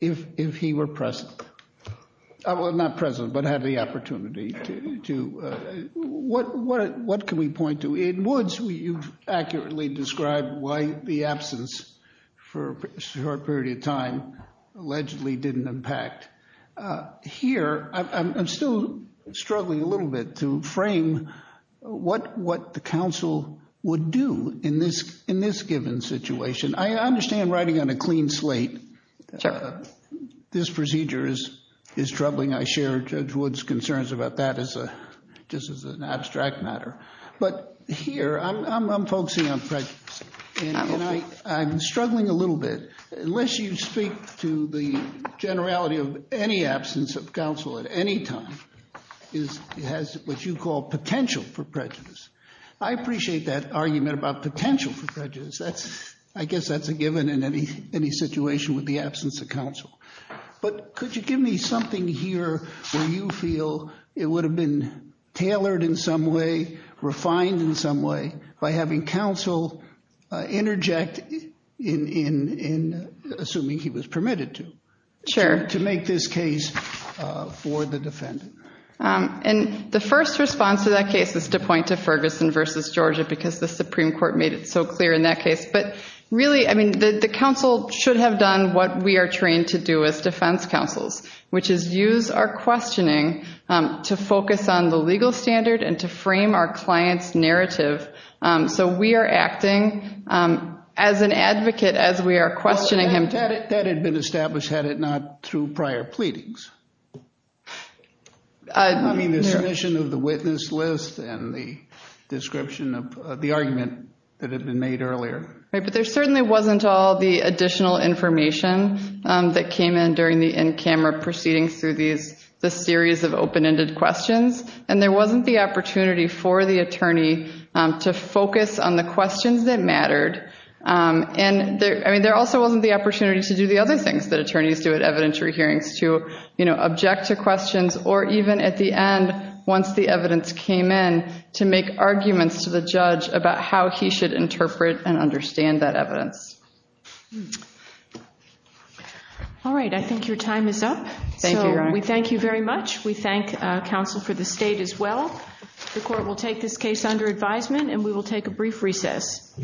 if he were present? Well, not present, but had the opportunity to. What can we point to? In Woods, you've accurately described why the absence for a short period of time allegedly didn't impact. Here, I'm still struggling a little bit to frame what the counsel would do in this given situation. I understand writing on a clean slate. This procedure is troubling. I share Judge Woods' concerns about that just as an abstract matter. But here, I'm focusing on prejudice, and I'm struggling a little bit. Unless you speak to the generality of any absence of counsel at any time, it has what you call potential for prejudice. I appreciate that argument about potential for prejudice. I guess that's a given in any situation with the absence of counsel. But could you give me something here where you feel it would have been tailored in some way, refined in some way, by having counsel interject, assuming he was permitted to, to make this case for the defendant? The first response to that case is to point to Ferguson v. Georgia because the Supreme Court made it so clear in that case. But really, I mean, the counsel should have done what we are trained to do as defense counsels, which is use our questioning to focus on the legal standard and to frame our client's narrative. So we are acting as an advocate as we are questioning him. That had been established, had it not, through prior pleadings. I mean, the submission of the witness list and the description of the argument that had been made earlier. But there certainly wasn't all the additional information that came in during the in-camera proceedings through the series of open-ended questions, and there wasn't the opportunity for the attorney to focus on the questions that mattered. And there also wasn't the opportunity to do the other things that attorneys do at evidentiary hearings, to, you know, object to questions, or even at the end, once the evidence came in, to make arguments to the judge about how he should interpret and understand that evidence. All right. I think your time is up. Thank you, Your Honor. So we thank you very much. We thank counsel for the state as well. The court will take this case under advisement, and we will take a brief recess.